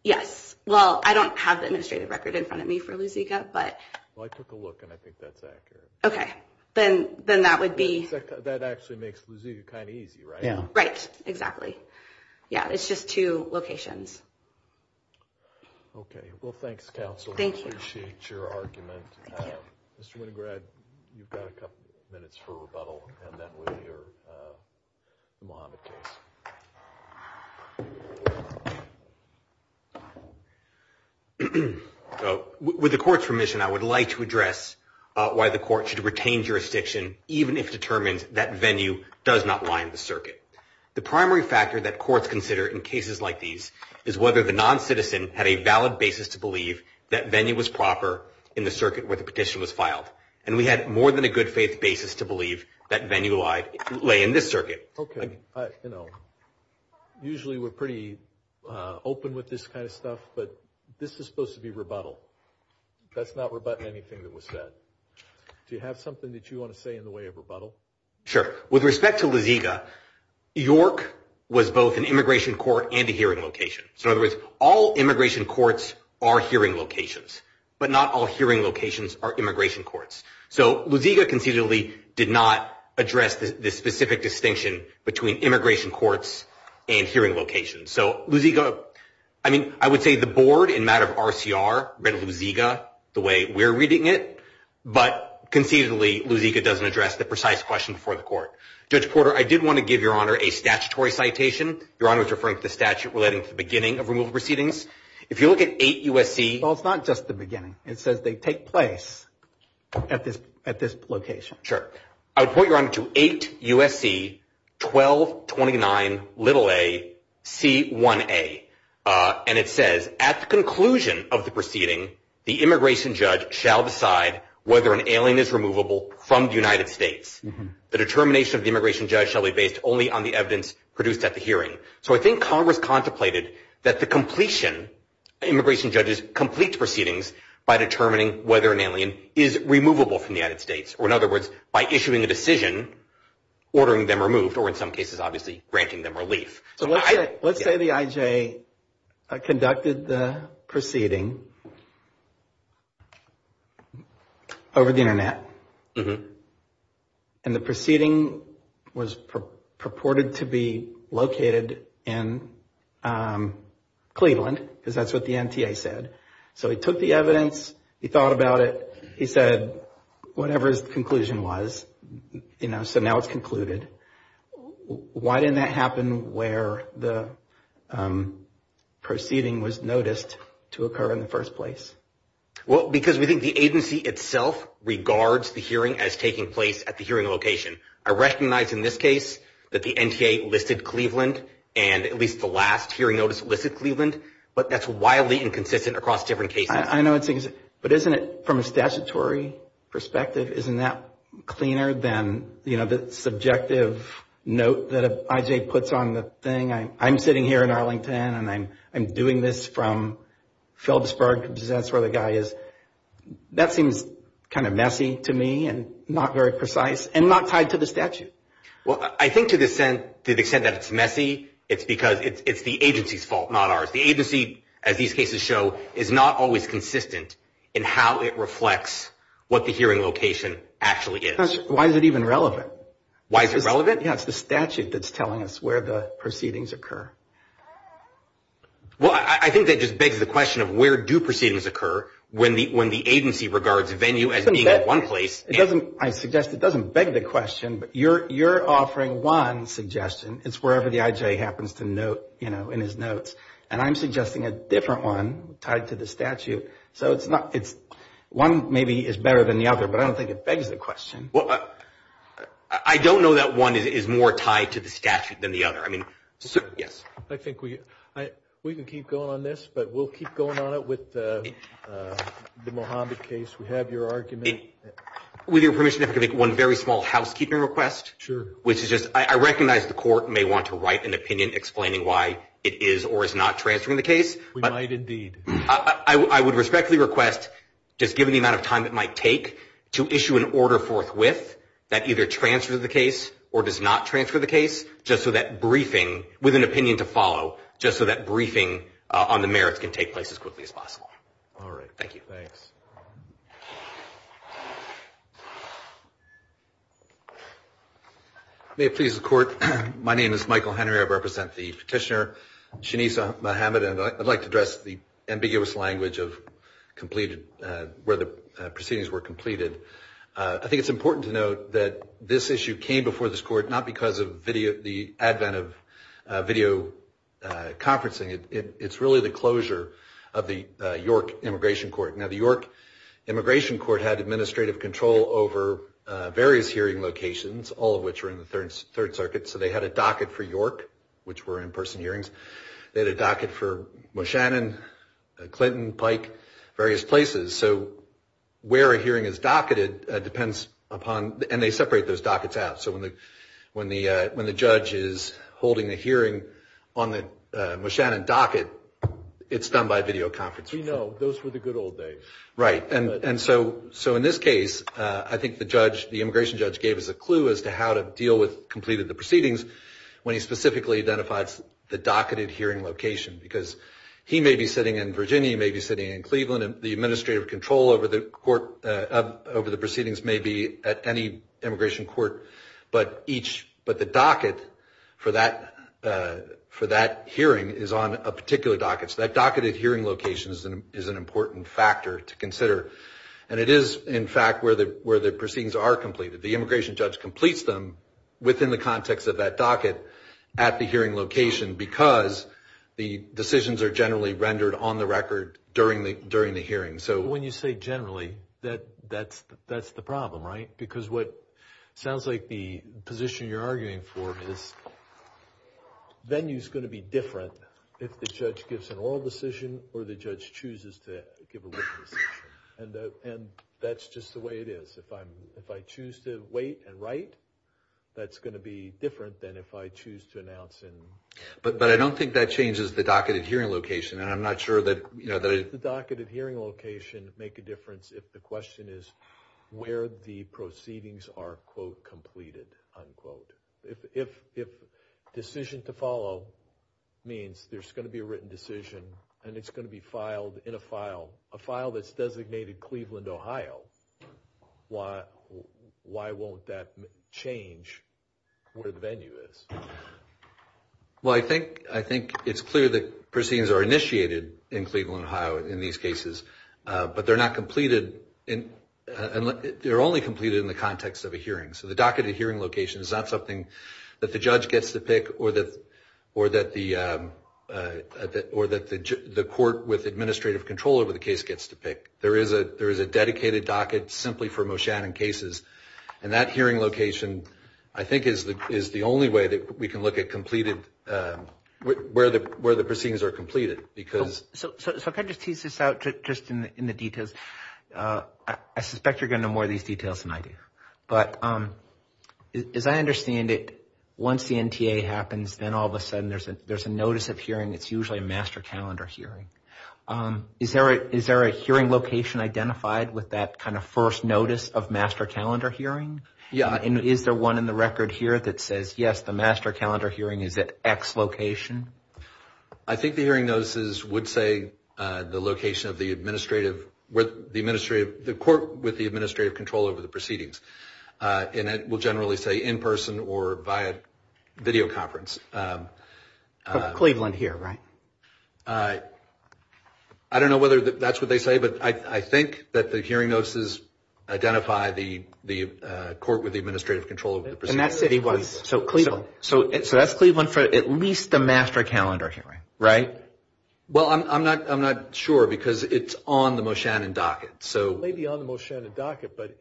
Yes. Well, I don't have the administrative record in front of me for the Ziga, but— Well, I took a look, and I think that's accurate. Okay. Then that would be— That actually makes the Ziga kind of easy, right? Yeah. Right. Exactly. Yeah. It's just two locations. Okay. Well, thanks, counsel. Thank you. I appreciate your argument. Thank you. Mr. Winograd, you've got a couple minutes for rebuttal, and that would be your monitor. So, with the court's permission, I would like to address why the court should retain jurisdiction even if determined that venue does not line the circuit. The primary factor that courts consider in cases like these is whether the noncitizen had a valid basis to believe that venue was proper in the circuit where the petition was filed, and we had more than a good faith basis to believe that venue lay in this circuit. Okay. You know, usually we're pretty open with this kind of stuff, but this is supposed to be rebuttal. That's not rebutting anything that was said. Do you have something that you want to say in the way of rebuttal? Sure. With respect to the Ziga, York was both an immigration court and a hearing location. So, in other words, all immigration courts are hearing locations, but not all hearing locations are immigration courts. So, Luziga concisely did not address the specific distinction between immigration courts and hearing locations. So, Luziga, I mean, I would say the board in matter of RCR read Luziga the way we're reading it, but concisely Luziga doesn't address the precise question for the court. Judge Porter, I did want to give Your Honor a statutory citation. Your Honor was referring to statute relating to the beginning of removal proceedings. If you look at 8 U.S.C. Well, it's not just the beginning. It says they take place at this location. Sure. I would point Your Honor to 8 U.S.C. 1229aC1a, and it says, at the conclusion of the proceeding, the immigration judge shall decide whether an alien is removable from the United States. The determination of the immigration judge shall be based only on the evidence produced at the hearing. So, I think Congress contemplated that the completion, immigration judges complete proceedings by determining whether an alien is removable from the United States, or in other words, by issuing a decision ordering them removed, or in some cases, obviously, granting them relief. So, let's say the IJ conducted the proceeding over the Internet, and the proceeding was purported to be located in Cleveland, because that's what the NTA said. So, he took the evidence. He thought about it. He said whatever his conclusion was, you know, so now it's concluded. Why didn't that happen where the proceeding was noticed to occur in the first place? Well, because we think the agency itself regards the hearing as taking place at the hearing location. I recognize in this case that the NTA listed Cleveland, and at least the last hearing notice listed Cleveland, but that's widely inconsistent across different cases. I know it's inconsistent, but isn't it, from a statutory perspective, isn't that cleaner than, you know, the subjective note that an IJ puts on the thing? I'm sitting here in Arlington, and I'm doing this from Phillipsburg, because that's where the guy is. That seems kind of messy to me, and not very precise, and not tied to the statute. Well, I think to the extent that it's messy, it's because it's the agency's fault, not ours. The agency, as these cases show, is not always consistent in how it reflects what the hearing location actually is. Why is it even relevant? Why is it relevant? I think it has to do with the statute that's telling us where the proceedings occur. Well, I think that just begs the question of where do proceedings occur when the agency regards venue as being at one place. I suggest it doesn't beg the question, but you're offering one suggestion. It's wherever the IJ happens to note, you know, in his notes, and I'm suggesting a different one tied to the statute. So one maybe is better than the other, but I don't think it begs the question. Well, I don't know that one is more tied to the statute than the other. Yes? I think we can keep going on this, but we'll keep going on it with the Mohamed case. We have your argument. With your permission, if I could make one very small housekeeping request. Sure. I recognize the court may want to write an opinion explaining why it is or is not transferring the case. We might indeed. I would respectfully request, just given the amount of time it might take, to issue an order forthwith that either transfers the case or does not transfer the case, just so that briefing, with an opinion to follow, just so that briefing on the merits can take place as quickly as possible. All right. Thank you. Thanks. May it please the court, my name is Michael Henry. I represent the petitioner, Shanice Mohamed, and I'd like to address the ambiguous language of where the proceedings were completed. I think it's important to note that this issue came before this court not because of the advent of video conferencing. It's really the closure of the York Immigration Court. Now, the York Immigration Court had administrative control over various hearing locations, all of which are in the Third Circuit, so they had a docket for York, which were in-person hearings. They had a docket for Moshannon, Clinton, Pike, various places. So where a hearing is docketed depends upon, and they separate those dockets out, so when the judge is holding a hearing on the Moshannon docket, it's done by video conferencing. We know. Those were the good old days. Right. So in this case, I think the immigration judge gave us a clue as to how to deal with completed the proceedings when he specifically identified the docketed hearing location, because he may be sitting in Virginia, he may be sitting in Cleveland, and the administrative control over the proceedings may be at any immigration court, but the docket for that hearing is on a particular docket. So that docketed hearing location is an important factor to consider, and it is, in fact, where the proceedings are completed. The immigration judge completes them within the context of that docket at the hearing location because the decisions are generally rendered on the record during the hearing. So when you say generally, that's the problem, right? Because what sounds like the position you're arguing for is venue is going to be different if the judge gives an oral decision or the judge chooses to give a written decision, and that's just the way it is. If I choose to wait and write, that's going to be different than if I choose to announce and ‑‑ But I don't think that changes the docketed hearing location, and I'm not sure that ‑‑ Does the docketed hearing location make a difference if the question is where the proceedings are, quote, completed, unquote? If decision to follow means there's going to be a written decision and it's going to be filed in a file, a file that's designated Cleveland, Ohio, why won't that change where the venue is? Well, I think it's clear that proceedings are initiated in Cleveland, Ohio in these cases, but they're not completed in ‑‑ they're only completed in the context of a hearing. So the docketed hearing location is not something that the judge gets to pick or that the court with administrative control over the case gets to pick. There is a dedicated docket simply for Moshan and cases, and that hearing location, I think, is the only way that we can look at completed ‑‑ where the proceedings are completed, because ‑‑ So if I could just tease this out just in the details. I suspect you're going to know more of these details than I do, but as I understand it, once the NTA happens, then all of a sudden there's a notice of hearing. It's usually a master calendar hearing. Is there a hearing location identified with that kind of first notice of master calendar hearing? Yeah. And is there one in the record here that says, yes, the master calendar hearing is at X location? I think the hearing notices would say the location of the administrative ‑‑ the court with the administrative control over the proceedings, and it will generally say in person or via video conference. So Cleveland here, right? I don't know whether that's what they say, but I think that the hearing notices identify the court with the administrative control over the proceedings. So that's Cleveland for at least the master calendar hearing, right? Well, I'm not sure, because it's on the Moshan and docket. It may be on the Moshan and docket, but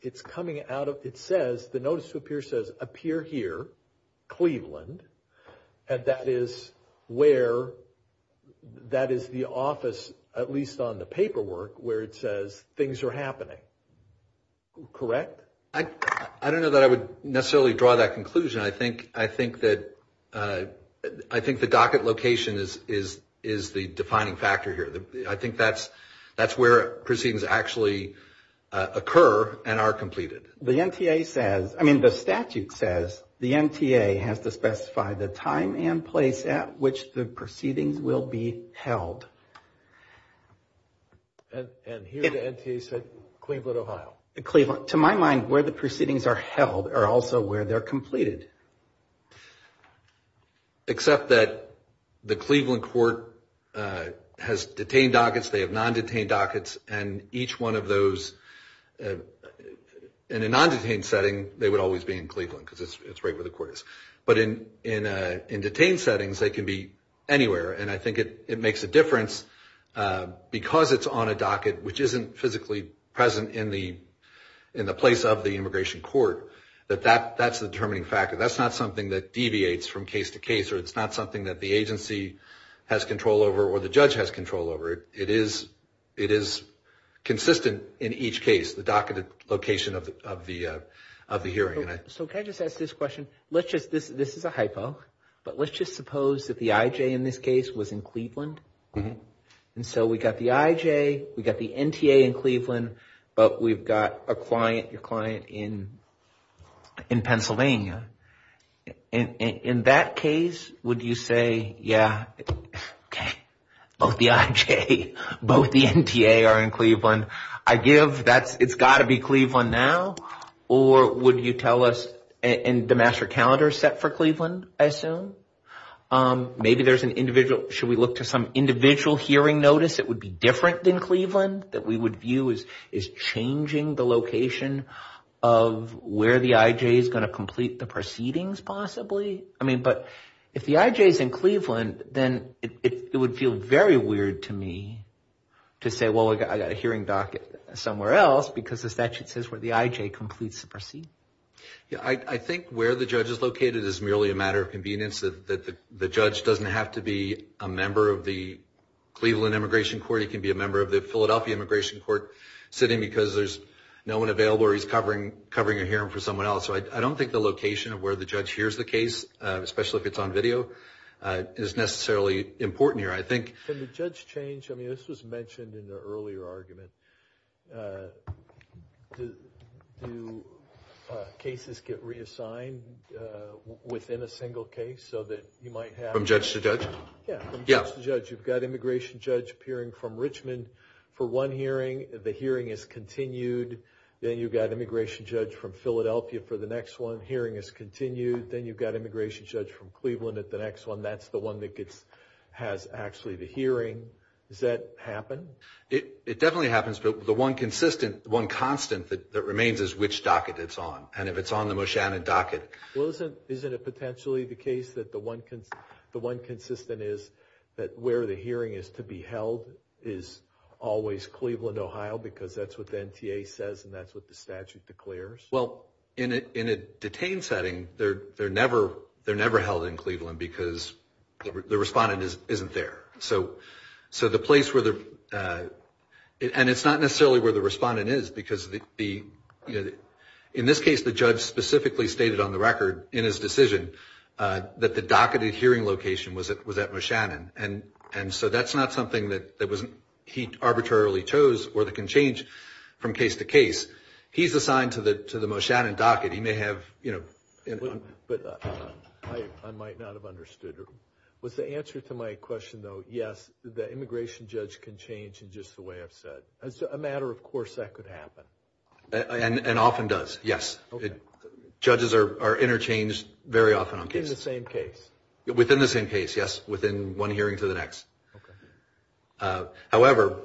it's coming out of ‑‑ it says, the notice of appearance says appear here, Cleveland, and that is where ‑‑ that is the office, at least on the paperwork, where it says things are happening. Correct? I don't know that I would necessarily draw that conclusion. I think that ‑‑ I think the docket location is the defining factor here. I think that's where proceedings actually occur and are completed. The NTA says ‑‑ I mean, the statute says the NTA has to specify the time and place at which the proceedings will be held. And here the NTA says Cleveland, Ohio. To my mind, where the proceedings are held are also where they're completed. Except that the Cleveland court has detained dockets, they have non‑detained dockets, and each one of those, in a non‑detained setting, they would always be in Cleveland, because it's right where the court is. But in detained settings, they can be anywhere. And I think it makes a difference, because it's on a docket, which isn't physically present in the place of the immigration court, that that's the determining factor. That's not something that deviates from case to case, or it's not something that the agency has control over or the judge has control over. It is consistent in each case, the docketed location of the hearing. So can I just ask this question? This is a hypo, but let's just suppose that the IJ in this case was in Cleveland. And so we've got the IJ, we've got the NTA in Cleveland, but we've got a client, your client, in Pennsylvania. In that case, would you say, yeah, okay, both the IJ, both the NTA are in Cleveland. I give that it's got to be Cleveland now, or would you tell us, and the master calendar is set for Cleveland, I assume? Maybe there's an individual, should we look to some individual hearing notice that would be different than Cleveland, that we would view as changing the location of where the IJ is going to complete the proceedings possibly? I mean, but if the IJ is in Cleveland, then it would feel very weird to me to say, well, I've got a hearing docket somewhere else, because the statute says where the IJ completes the proceedings. I think where the judge is located is merely a matter of convenience. The judge doesn't have to be a member of the Cleveland Immigration Court. He can be a member of the Philadelphia Immigration Court sitting because there's no one available, or he's covering a hearing for someone else. So I don't think the location of where the judge hears the case, especially if it's on video, is necessarily important here. Can the judge change? I mean, this was mentioned in the earlier argument. Do cases get reassigned within a single case so that you might have... From judge to judge? Yeah, from judge to judge. You've got an immigration judge appearing from Richmond for one hearing. The hearing is continued. Then you've got an immigration judge from Philadelphia for the next one. The hearing is continued. Then you've got an immigration judge from Cleveland at the next one. That's the one that has actually the hearing. Does that happen? It definitely happens, but the one constant that remains is which docket it's on. And if it's on the Moshannon docket... Well, isn't it potentially the case that the one consistent is that where the hearing is to be held is always Cleveland, Ohio, because that's what the NTA says and that's what the statute declares? Well, in a detained setting, they're never held in Cleveland because the respondent isn't there. So the place where the... And it's not necessarily where the respondent is because the... In this case, the judge specifically stated on the record in his decision that the docketed hearing location was at Moshannon. And so that's not something that he arbitrarily chose or that can change from case to case. He's assigned to the Moshannon docket. He may have... But I might not have understood. With the answer to my question, though, yes, the immigration judge can change in just the way I've said. As a matter of course, that could happen. And often does, yes. Judges are interchanged very often on cases. In the same case? Within the same case, yes, within one hearing to the next. However,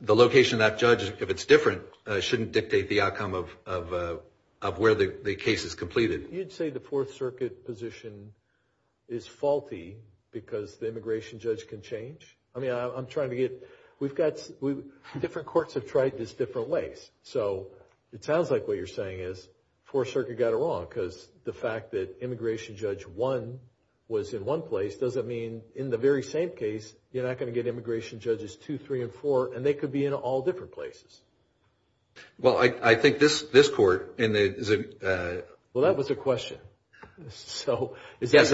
the location of that judge, if it's different, shouldn't dictate the outcome of where the case is completed. You'd say the Fourth Circuit position is faulty because the immigration judge can change? I mean, I'm trying to get... Different courts have tried this different ways. So it sounds like what you're saying is the Fourth Circuit got it wrong because the fact that immigration judge 1 was in one place doesn't mean in the very same case you're not going to get immigration judges 2, 3, and 4, and they could be in all different places. Well, I think this court... Well, that was a question. So is that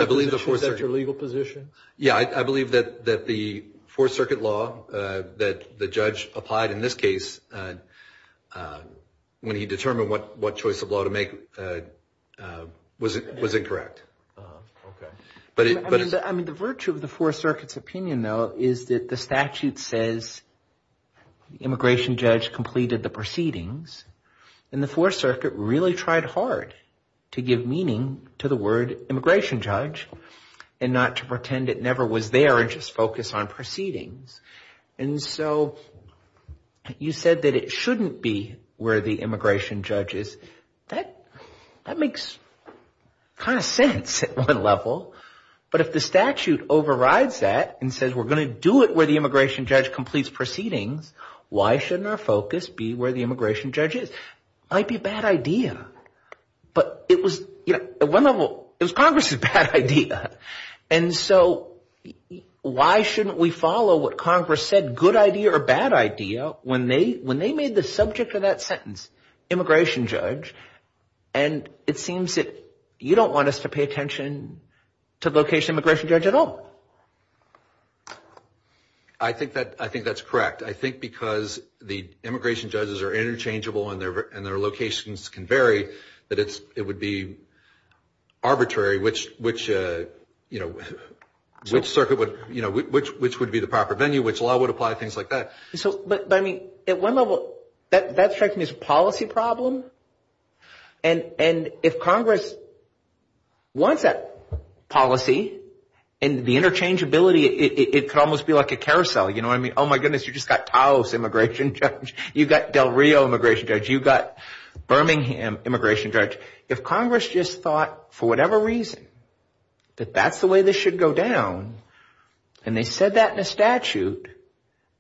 your legal position? Yeah, I believe that the Fourth Circuit law that the judge applied in this case when he determined what choice of law to make was incorrect. Okay. I mean, the virtue of the Fourth Circuit's opinion, though, is that the statute says the immigration judge completed the proceedings, and the Fourth Circuit really tried hard to give meaning to the word immigration judge and not to pretend it never was there and just focus on proceedings. And so you said that it shouldn't be where the immigration judge is. That makes kind of sense at one level. But if the statute overrides that and says we're going to do it where the immigration judge completes proceedings, why shouldn't our focus be where the immigration judge is? It might be a bad idea. But it was... At one level, it was Congress's bad idea. And so why shouldn't we follow what Congress said, good idea or bad idea, when they made the subject of that sentence immigration judge? And it seems that you don't want us to pay attention to the location of the immigration judge at all. I think that's correct. I think because the immigration judges are interchangeable and their locations can vary, that it would be arbitrary, which would be the proper venue, which law would apply, things like that. But at one level, that strikes me as a policy problem. And if Congress wants that policy and the interchangeability, it could almost be like a carousel. You know what I mean? Oh my goodness, you've just got Taos immigration judge. You've got Del Rio immigration judge. You've got Birmingham immigration judge. If Congress just thought, for whatever reason, that that's the way this should go down, and they said that in a statute,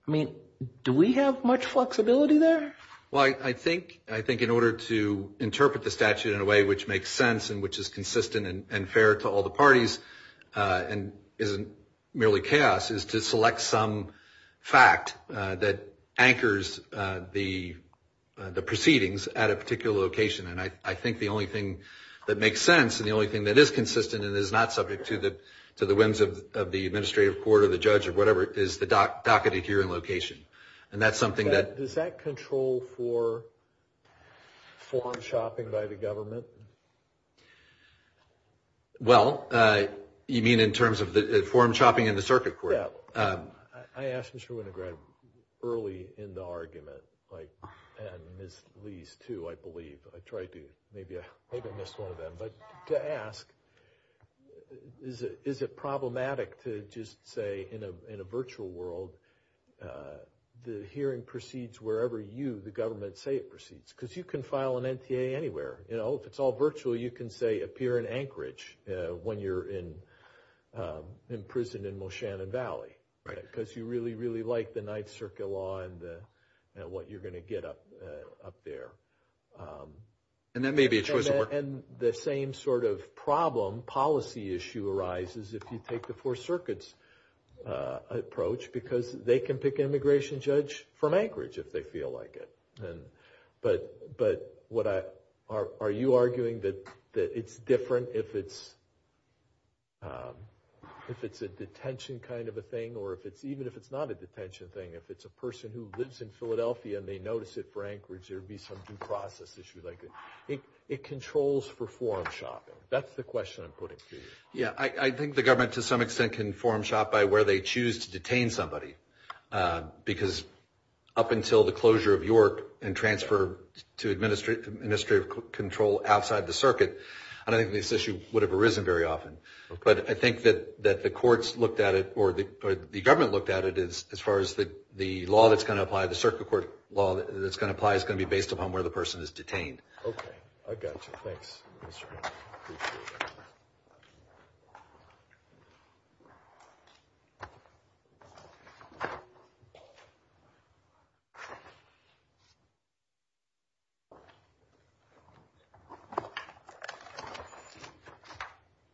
I mean, do we have much flexibility there? Well, I think in order to interpret the statute in a way which makes sense and which is consistent and fair to all the parties and isn't merely chaos, is to select some fact that anchors the proceedings at a particular location. And I think the only thing that makes sense and the only thing that is consistent and is not subject to the whims of the administrative court or the judge or whatever is the docketed hearing location. And that's something that... Does that control for forum shopping by the government? Well, you mean in terms of the forum shopping in the circuit court? Yeah. I asked Mr. Winograd early in the argument, and Ms. Lees too, I believe. I tried to maybe... I didn't miss one of them. But to ask, is it problematic to just say in a virtual world the hearing proceeds wherever you, the government, say it proceeds? Because you can file an NCA anywhere. If it's all virtual, you can say appear in Anchorage when you're in prison in Moshannon Valley. Because you really, really like the Ninth Circuit law and what you're going to get up there. And that may be a choice of... And the same sort of problem, policy issue, arises if you take the Fourth Circuit's approach because they can pick an immigration judge from Anchorage if they feel like it. But are you arguing that it's different if it's a detention kind of a thing or even if it's not a detention thing, if it's a person who lives in Philadelphia and they notice it for Anchorage, there would be some due process issues. It controls for forum shopping. That's the question I'm putting to you. Yeah, I think the government to some extent can forum shop by where they choose to detain somebody because up until the closure of York and transfer to administrative control outside the circuit, I don't think this issue would have arisen very often. But I think that the courts looked at it or the government looked at it as far as the law that's going to apply, the circuit court law that's going to apply is going to be based upon where the person is detained. Okay, I've got you. Thanks.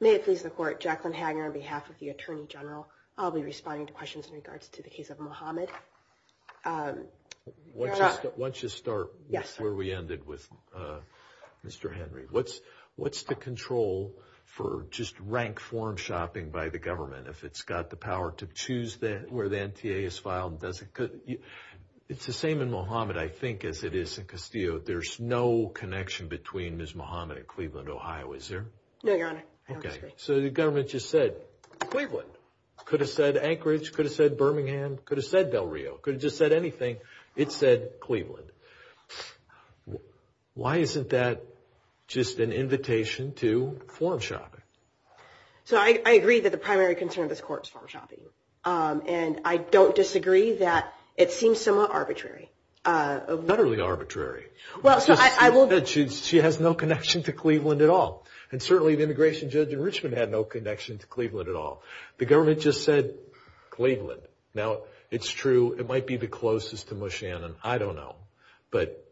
May it please the court, Jacqueline Hagner on behalf of the Attorney General. I'll be responding to questions in regards to the case of Mohamed. Why don't you start where we ended with Mr. Henry. What's the control for just rank forum shopping by the government if it's got the power to choose where the NTA is filed? It's the same in Mohamed, I think, as it is in Castillo. There's no connection between Ms. Mohamed and Cleveland, Ohio, is there? No, Your Honor. Okay, so the government just said Cleveland. Could have said Anchorage, could have said Birmingham, could have said Del Rio, could have just said anything. It said Cleveland. Why isn't that just an invitation to forum shopping? So I agree that the primary concern of this court is forum shopping. And I don't disagree that it seems somewhat arbitrary. Not really arbitrary. She has no connection to Cleveland at all. And certainly the immigration judge in Richmond had no connection to Cleveland at all. The government just said Cleveland. Now, it's true it might be the closest to Moshannon. I don't know. But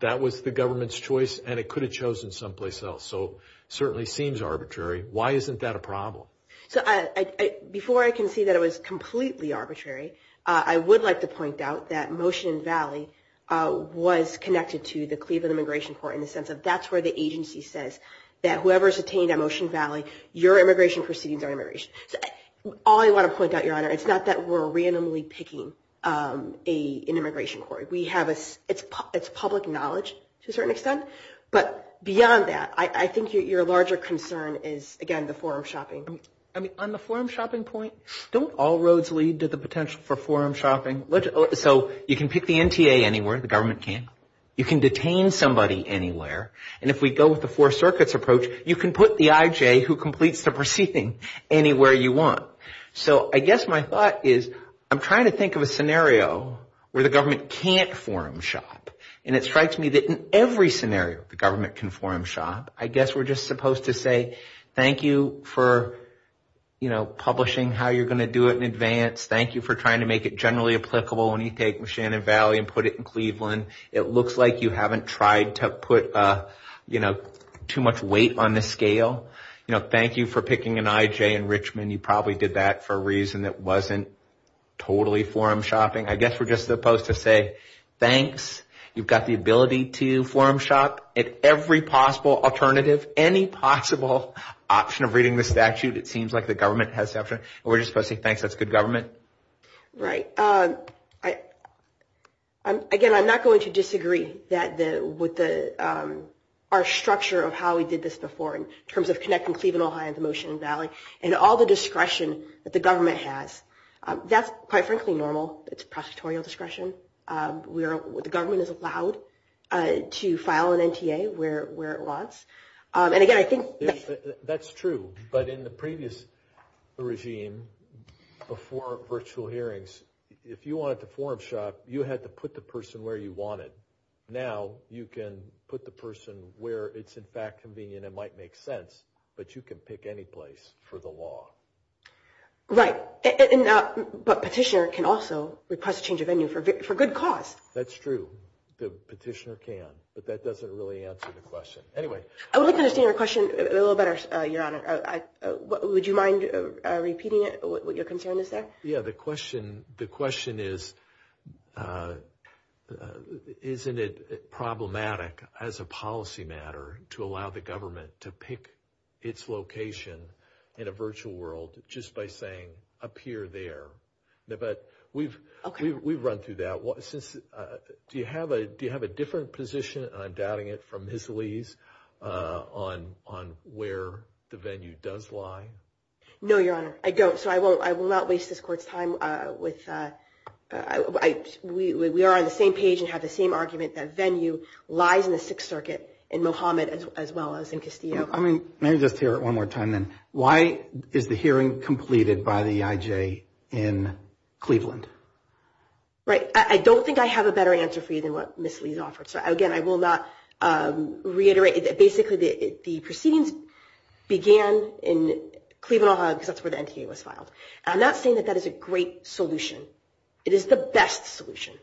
that was the government's choice, and it could have chosen someplace else. So it certainly seems arbitrary. Why isn't that a problem? Before I can say that it was completely arbitrary, I would like to point out that Motion Valley was connected to the Cleveland Immigration Court in the sense that that's where the agency says that whoever is detained at Motion Valley, your immigration proceedings are immigration. All I want to point out, Your Honor, it's not that we're randomly picking an immigration court. It's public knowledge to a certain extent. But beyond that, I think your larger concern is, again, the forum shopping. On the forum shopping point, don't all roads lead to the potential for forum shopping? So you can pick the NTA anywhere, the government can. You can detain somebody anywhere. And if we go with the Four Circuits approach, you can put the IJ who completes the proceeding anywhere you want. So I guess my thought is, I'm trying to think of a scenario where the government can't forum shop. And it strikes me that in every scenario the government can forum shop. I guess we're just supposed to say, thank you for publishing how you're going to do it in advance. Thank you for trying to make it generally applicable when you take Shannon Valley and put it in Cleveland. It looks like you haven't tried to put too much weight on the scale. Thank you for picking an IJ in Richmond. You probably did that for a reason. It wasn't totally forum shopping. I guess we're just supposed to say, thanks. You've got the ability to forum shop at every possible alternative, any possible option of reading the statute. It seems like the government has that. We're just supposed to say, thanks, that's good government. Right. Again, I'm not going to disagree with our structure of how we did this before in terms of connecting Cleveland, Ohio, and the motion in Valley, and all the discretion that the government has. That's, quite frankly, normal. It's prosecutorial discretion. The government is allowed to file an NTA where it was. And again, I think that's true. But in the previous regime, before virtual hearings, if you wanted to forum shop, you had to put the person where you wanted. Now you can put the person where it's, in fact, convenient and might make sense, but you can pick any place for the law. Right. But petitioner can also request a change of venue for good cause. That's true. The petitioner can, but that doesn't really answer the question. I would like to understand your question a little better, Your Honor. Would you mind repeating it, what your concern is there? Yeah, the question is, isn't it problematic as a policy matter to allow the government to pick its location in a virtual world just by saying, appear there? We've run through that. Do you have a different position, and I'm doubting it, from Hisley's on where the venue does lie? No, Your Honor, I don't. So I will not waste this court's time. We are on the same page and have the same argument that venue lies in the Sixth Circuit, in Mohammed as well as in Castillo. Let me just hear it one more time then. Why is the hearing completed by the EIJ in Cleveland? Right. I don't think I have a better answer for you than what Ms. Lee has offered. So, again, I will not reiterate. Basically, the proceedings began in Cleveland, Ohio, because that's where the NTA was filed. I'm not saying that that is a great solution. It is the best solution,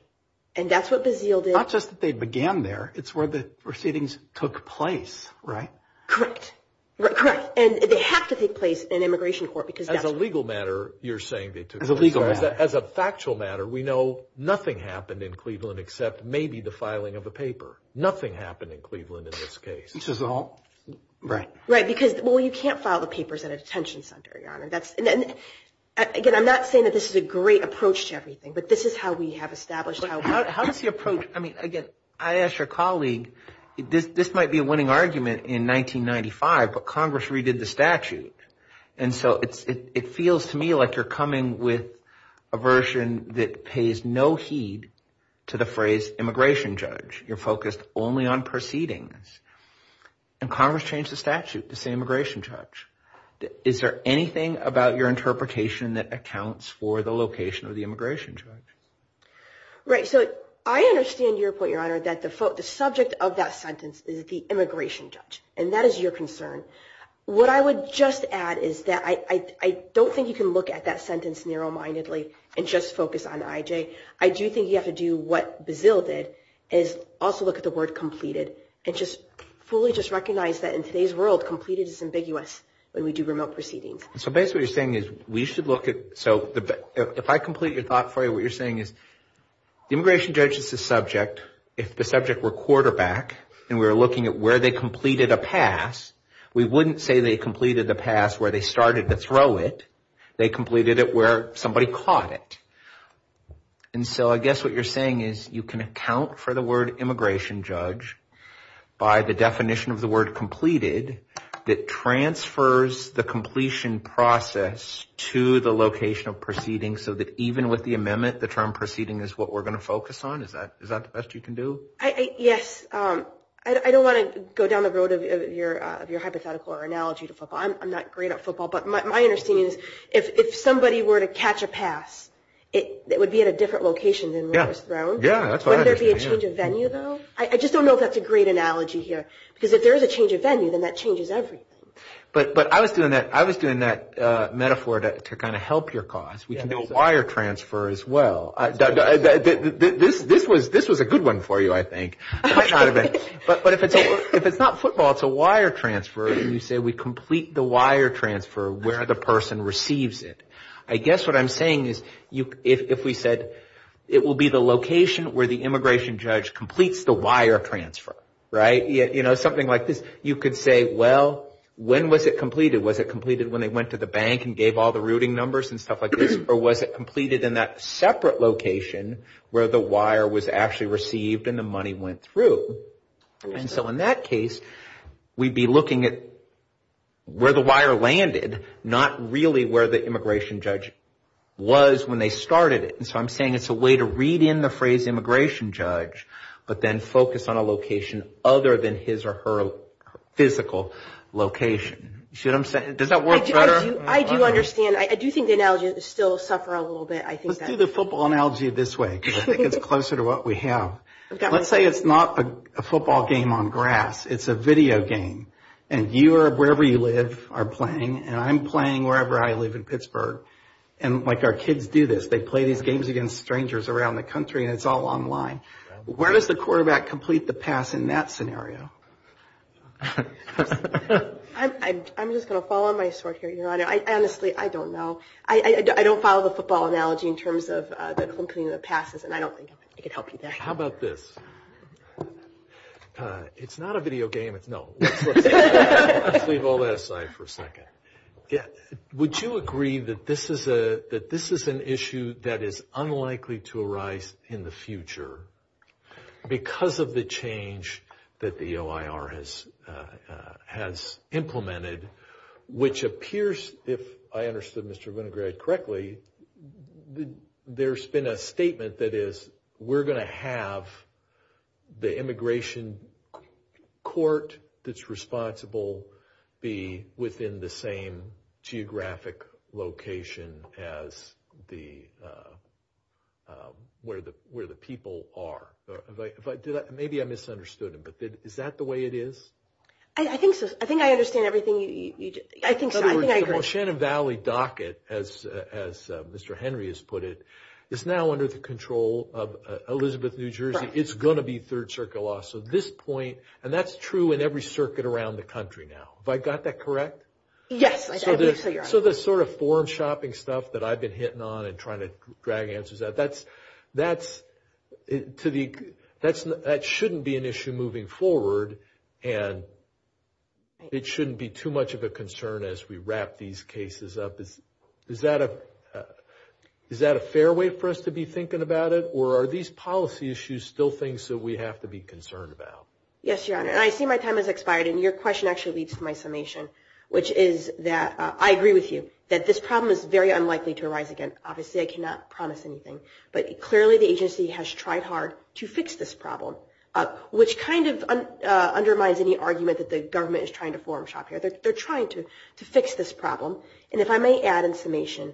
and that's what the zeal did. It's not just that they began there. It's where the proceedings took place, right? Correct. Correct. And they have to take place in an immigration court because that's… As a legal matter, you're saying they took place. As a legal matter. As a factual matter, we know nothing happened in Cleveland except maybe the filing of the paper. Nothing happened in Cleveland in this case. This is all… Right. Right, because, well, you can't file the papers at a detention center, Your Honor. Again, I'm not saying that this is a great approach to everything, but this is how we have established how we do things. How does the approach… I mean, again, I asked your colleague, this might be a winning argument in 1995, but Congress redid the statute. And so it feels to me like you're coming with a version that pays no heed to the phrase immigration judge. You're focused only on proceedings. And Congress changed the statute to say immigration judge. Is there anything about your interpretation that accounts for the location of the immigration judge? Right. So I understand your point, Your Honor, that the subject of that sentence is the immigration judge, and that is your concern. What I would just add is that I don't think you can look at that sentence narrow-mindedly and just focus on I.J. I do think you have to do what Bazille did, and also look at the word completed, and just fully just recognize that in today's world, completed is ambiguous when we do remote proceedings. So basically what you're saying is we should look at… So if I complete your thought for you, what you're saying is the immigration judge is the subject. If the subject were quarterback, and we were looking at where they completed a pass, we wouldn't say they completed the pass where they started to throw it. They completed it where somebody caught it. And so I guess what you're saying is you can account for the word immigration judge by the definition of the word completed that transfers the completion process to the location of proceedings, so that even with the amendment, the term proceeding is what we're going to focus on. Is that the best you can do? Yes. I don't want to go down the road of your hypothetical or analogy to football. I'm not great at football, but my understanding is if somebody were to catch a pass, it would be at a different location than where it was thrown. Would there be a change of venue, though? I just don't know if that's a great analogy here, because if there is a change of venue, then that changes everything. But I was doing that metaphor to kind of help your cause. We can do a wire transfer as well. This was a good one for you, I think. But if it's not football, it's a wire transfer, and you say we complete the wire transfer where the person receives it. I guess what I'm saying is if we said it will be the location where the immigration judge completes the wire transfer, right? Something like this. You could say, well, when was it completed? Was it completed when they went to the bank and gave all the routing numbers and stuff like this? Or was it completed in that separate location where the wire was actually received and the money went through? And so in that case, we'd be looking at where the wire landed, not really where the immigration judge was when they started it. And so I'm saying it's a way to read in the phrase immigration judge, but then focus on a location other than his or her physical location. You see what I'm saying? Does that work better? I do understand. I do think the analogy is still tougher a little bit. Let's do the football analogy this way because I think it's closer to what we have. Let's say it's not a football game on grass. It's a video game. And you or wherever you live are playing, and I'm playing wherever I live in Pittsburgh. And our kids do this. They play these games against strangers around the country, and it's all online. Where does the quarterback complete the pass in that scenario? I'm just going to follow my story here. Honestly, I don't know. I don't follow the football analogy in terms of completing the passes, and I don't think I can help you there. How about this? It's not a video game. No. Let's leave all that aside for a second. Would you agree that this is an issue that is unlikely to arise in the future because of the change that the OIR has implemented, which appears, if I understood Mr. Winograd correctly, there's been a statement that is we're going to have the immigration court that's responsible be within the same geographic location as where the people are. Maybe I misunderstood it, but is that the way it is? I think I understand everything you just said. In other words, the Oceana Valley docket, as Mr. Henry has put it, is now under the control of Elizabeth, New Jersey. It's going to be third-circuit law. And that's true in every circuit around the country now. Have I got that correct? Yes. So the sort of foreign shopping stuff that I've been hitting on and trying to drag answers out, that shouldn't be an issue moving forward, and it shouldn't be too much of a concern as we wrap these cases up. Is that a fair way for us to be thinking about it, or are these policy issues still things that we have to be concerned about? Yes, Your Honor, and I see my time has expired, and your question actually leads to my summation, which is that I agree with you that this problem is very unlikely to arise again. Obviously I cannot promise anything, but clearly the agency has tried hard to fix this problem, which kind of undermines any argument that the government is trying to foreign shop here. They're trying to fix this problem. And if I may add information,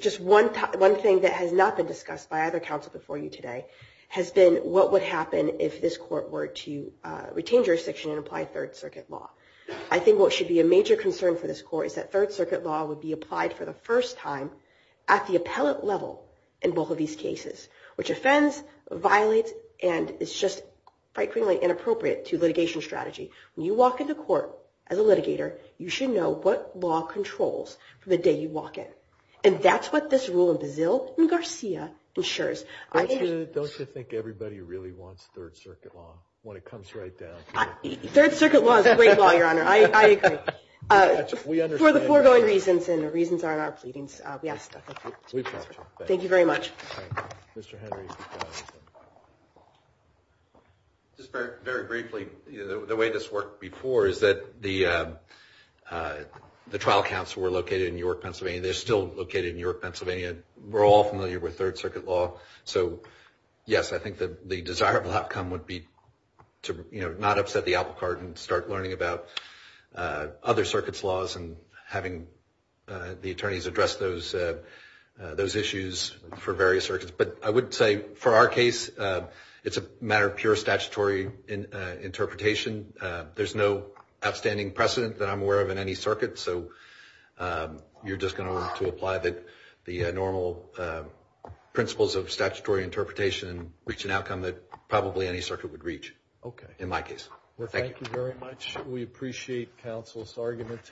just one thing that has not been discussed by other counsel before you today has been what would happen if this court were to retain jurisdiction and apply Third Circuit law. I think what should be a major concern for this court is that Third Circuit law would be applied for the first time at the appellate level in both of these cases, which offends, violates, and is just quite clearly inappropriate to litigation strategy. When you walk into court as a litigator, you should know what law controls for the day you walk in, and that's what this rule in Brazil and Garcia ensures. Don't you think everybody really wants Third Circuit law when it comes right down? Third Circuit law is a great law, Your Honor. I agree. For the foregoing reasons and the reasons on our pleadings, yes. Thank you very much. Just very briefly, the way this worked before is that the trial counsel were located in York, Pennsylvania. They're still located in York, Pennsylvania. We're all familiar with Third Circuit law. Yes, I think the desirable outcome would be to not upset the apple cart and start learning about other circuits' laws and having the attorneys address those issues for various circuits. But I would say for our case, it's a matter of pure statutory interpretation. There's no outstanding precedent that I'm aware of in any circuit, so you're just going to want to apply the normal principles of statutory interpretation and reach an outcome that probably any circuit would reach in my case. Thank you. Thank you very much. We appreciate counsel's argument today.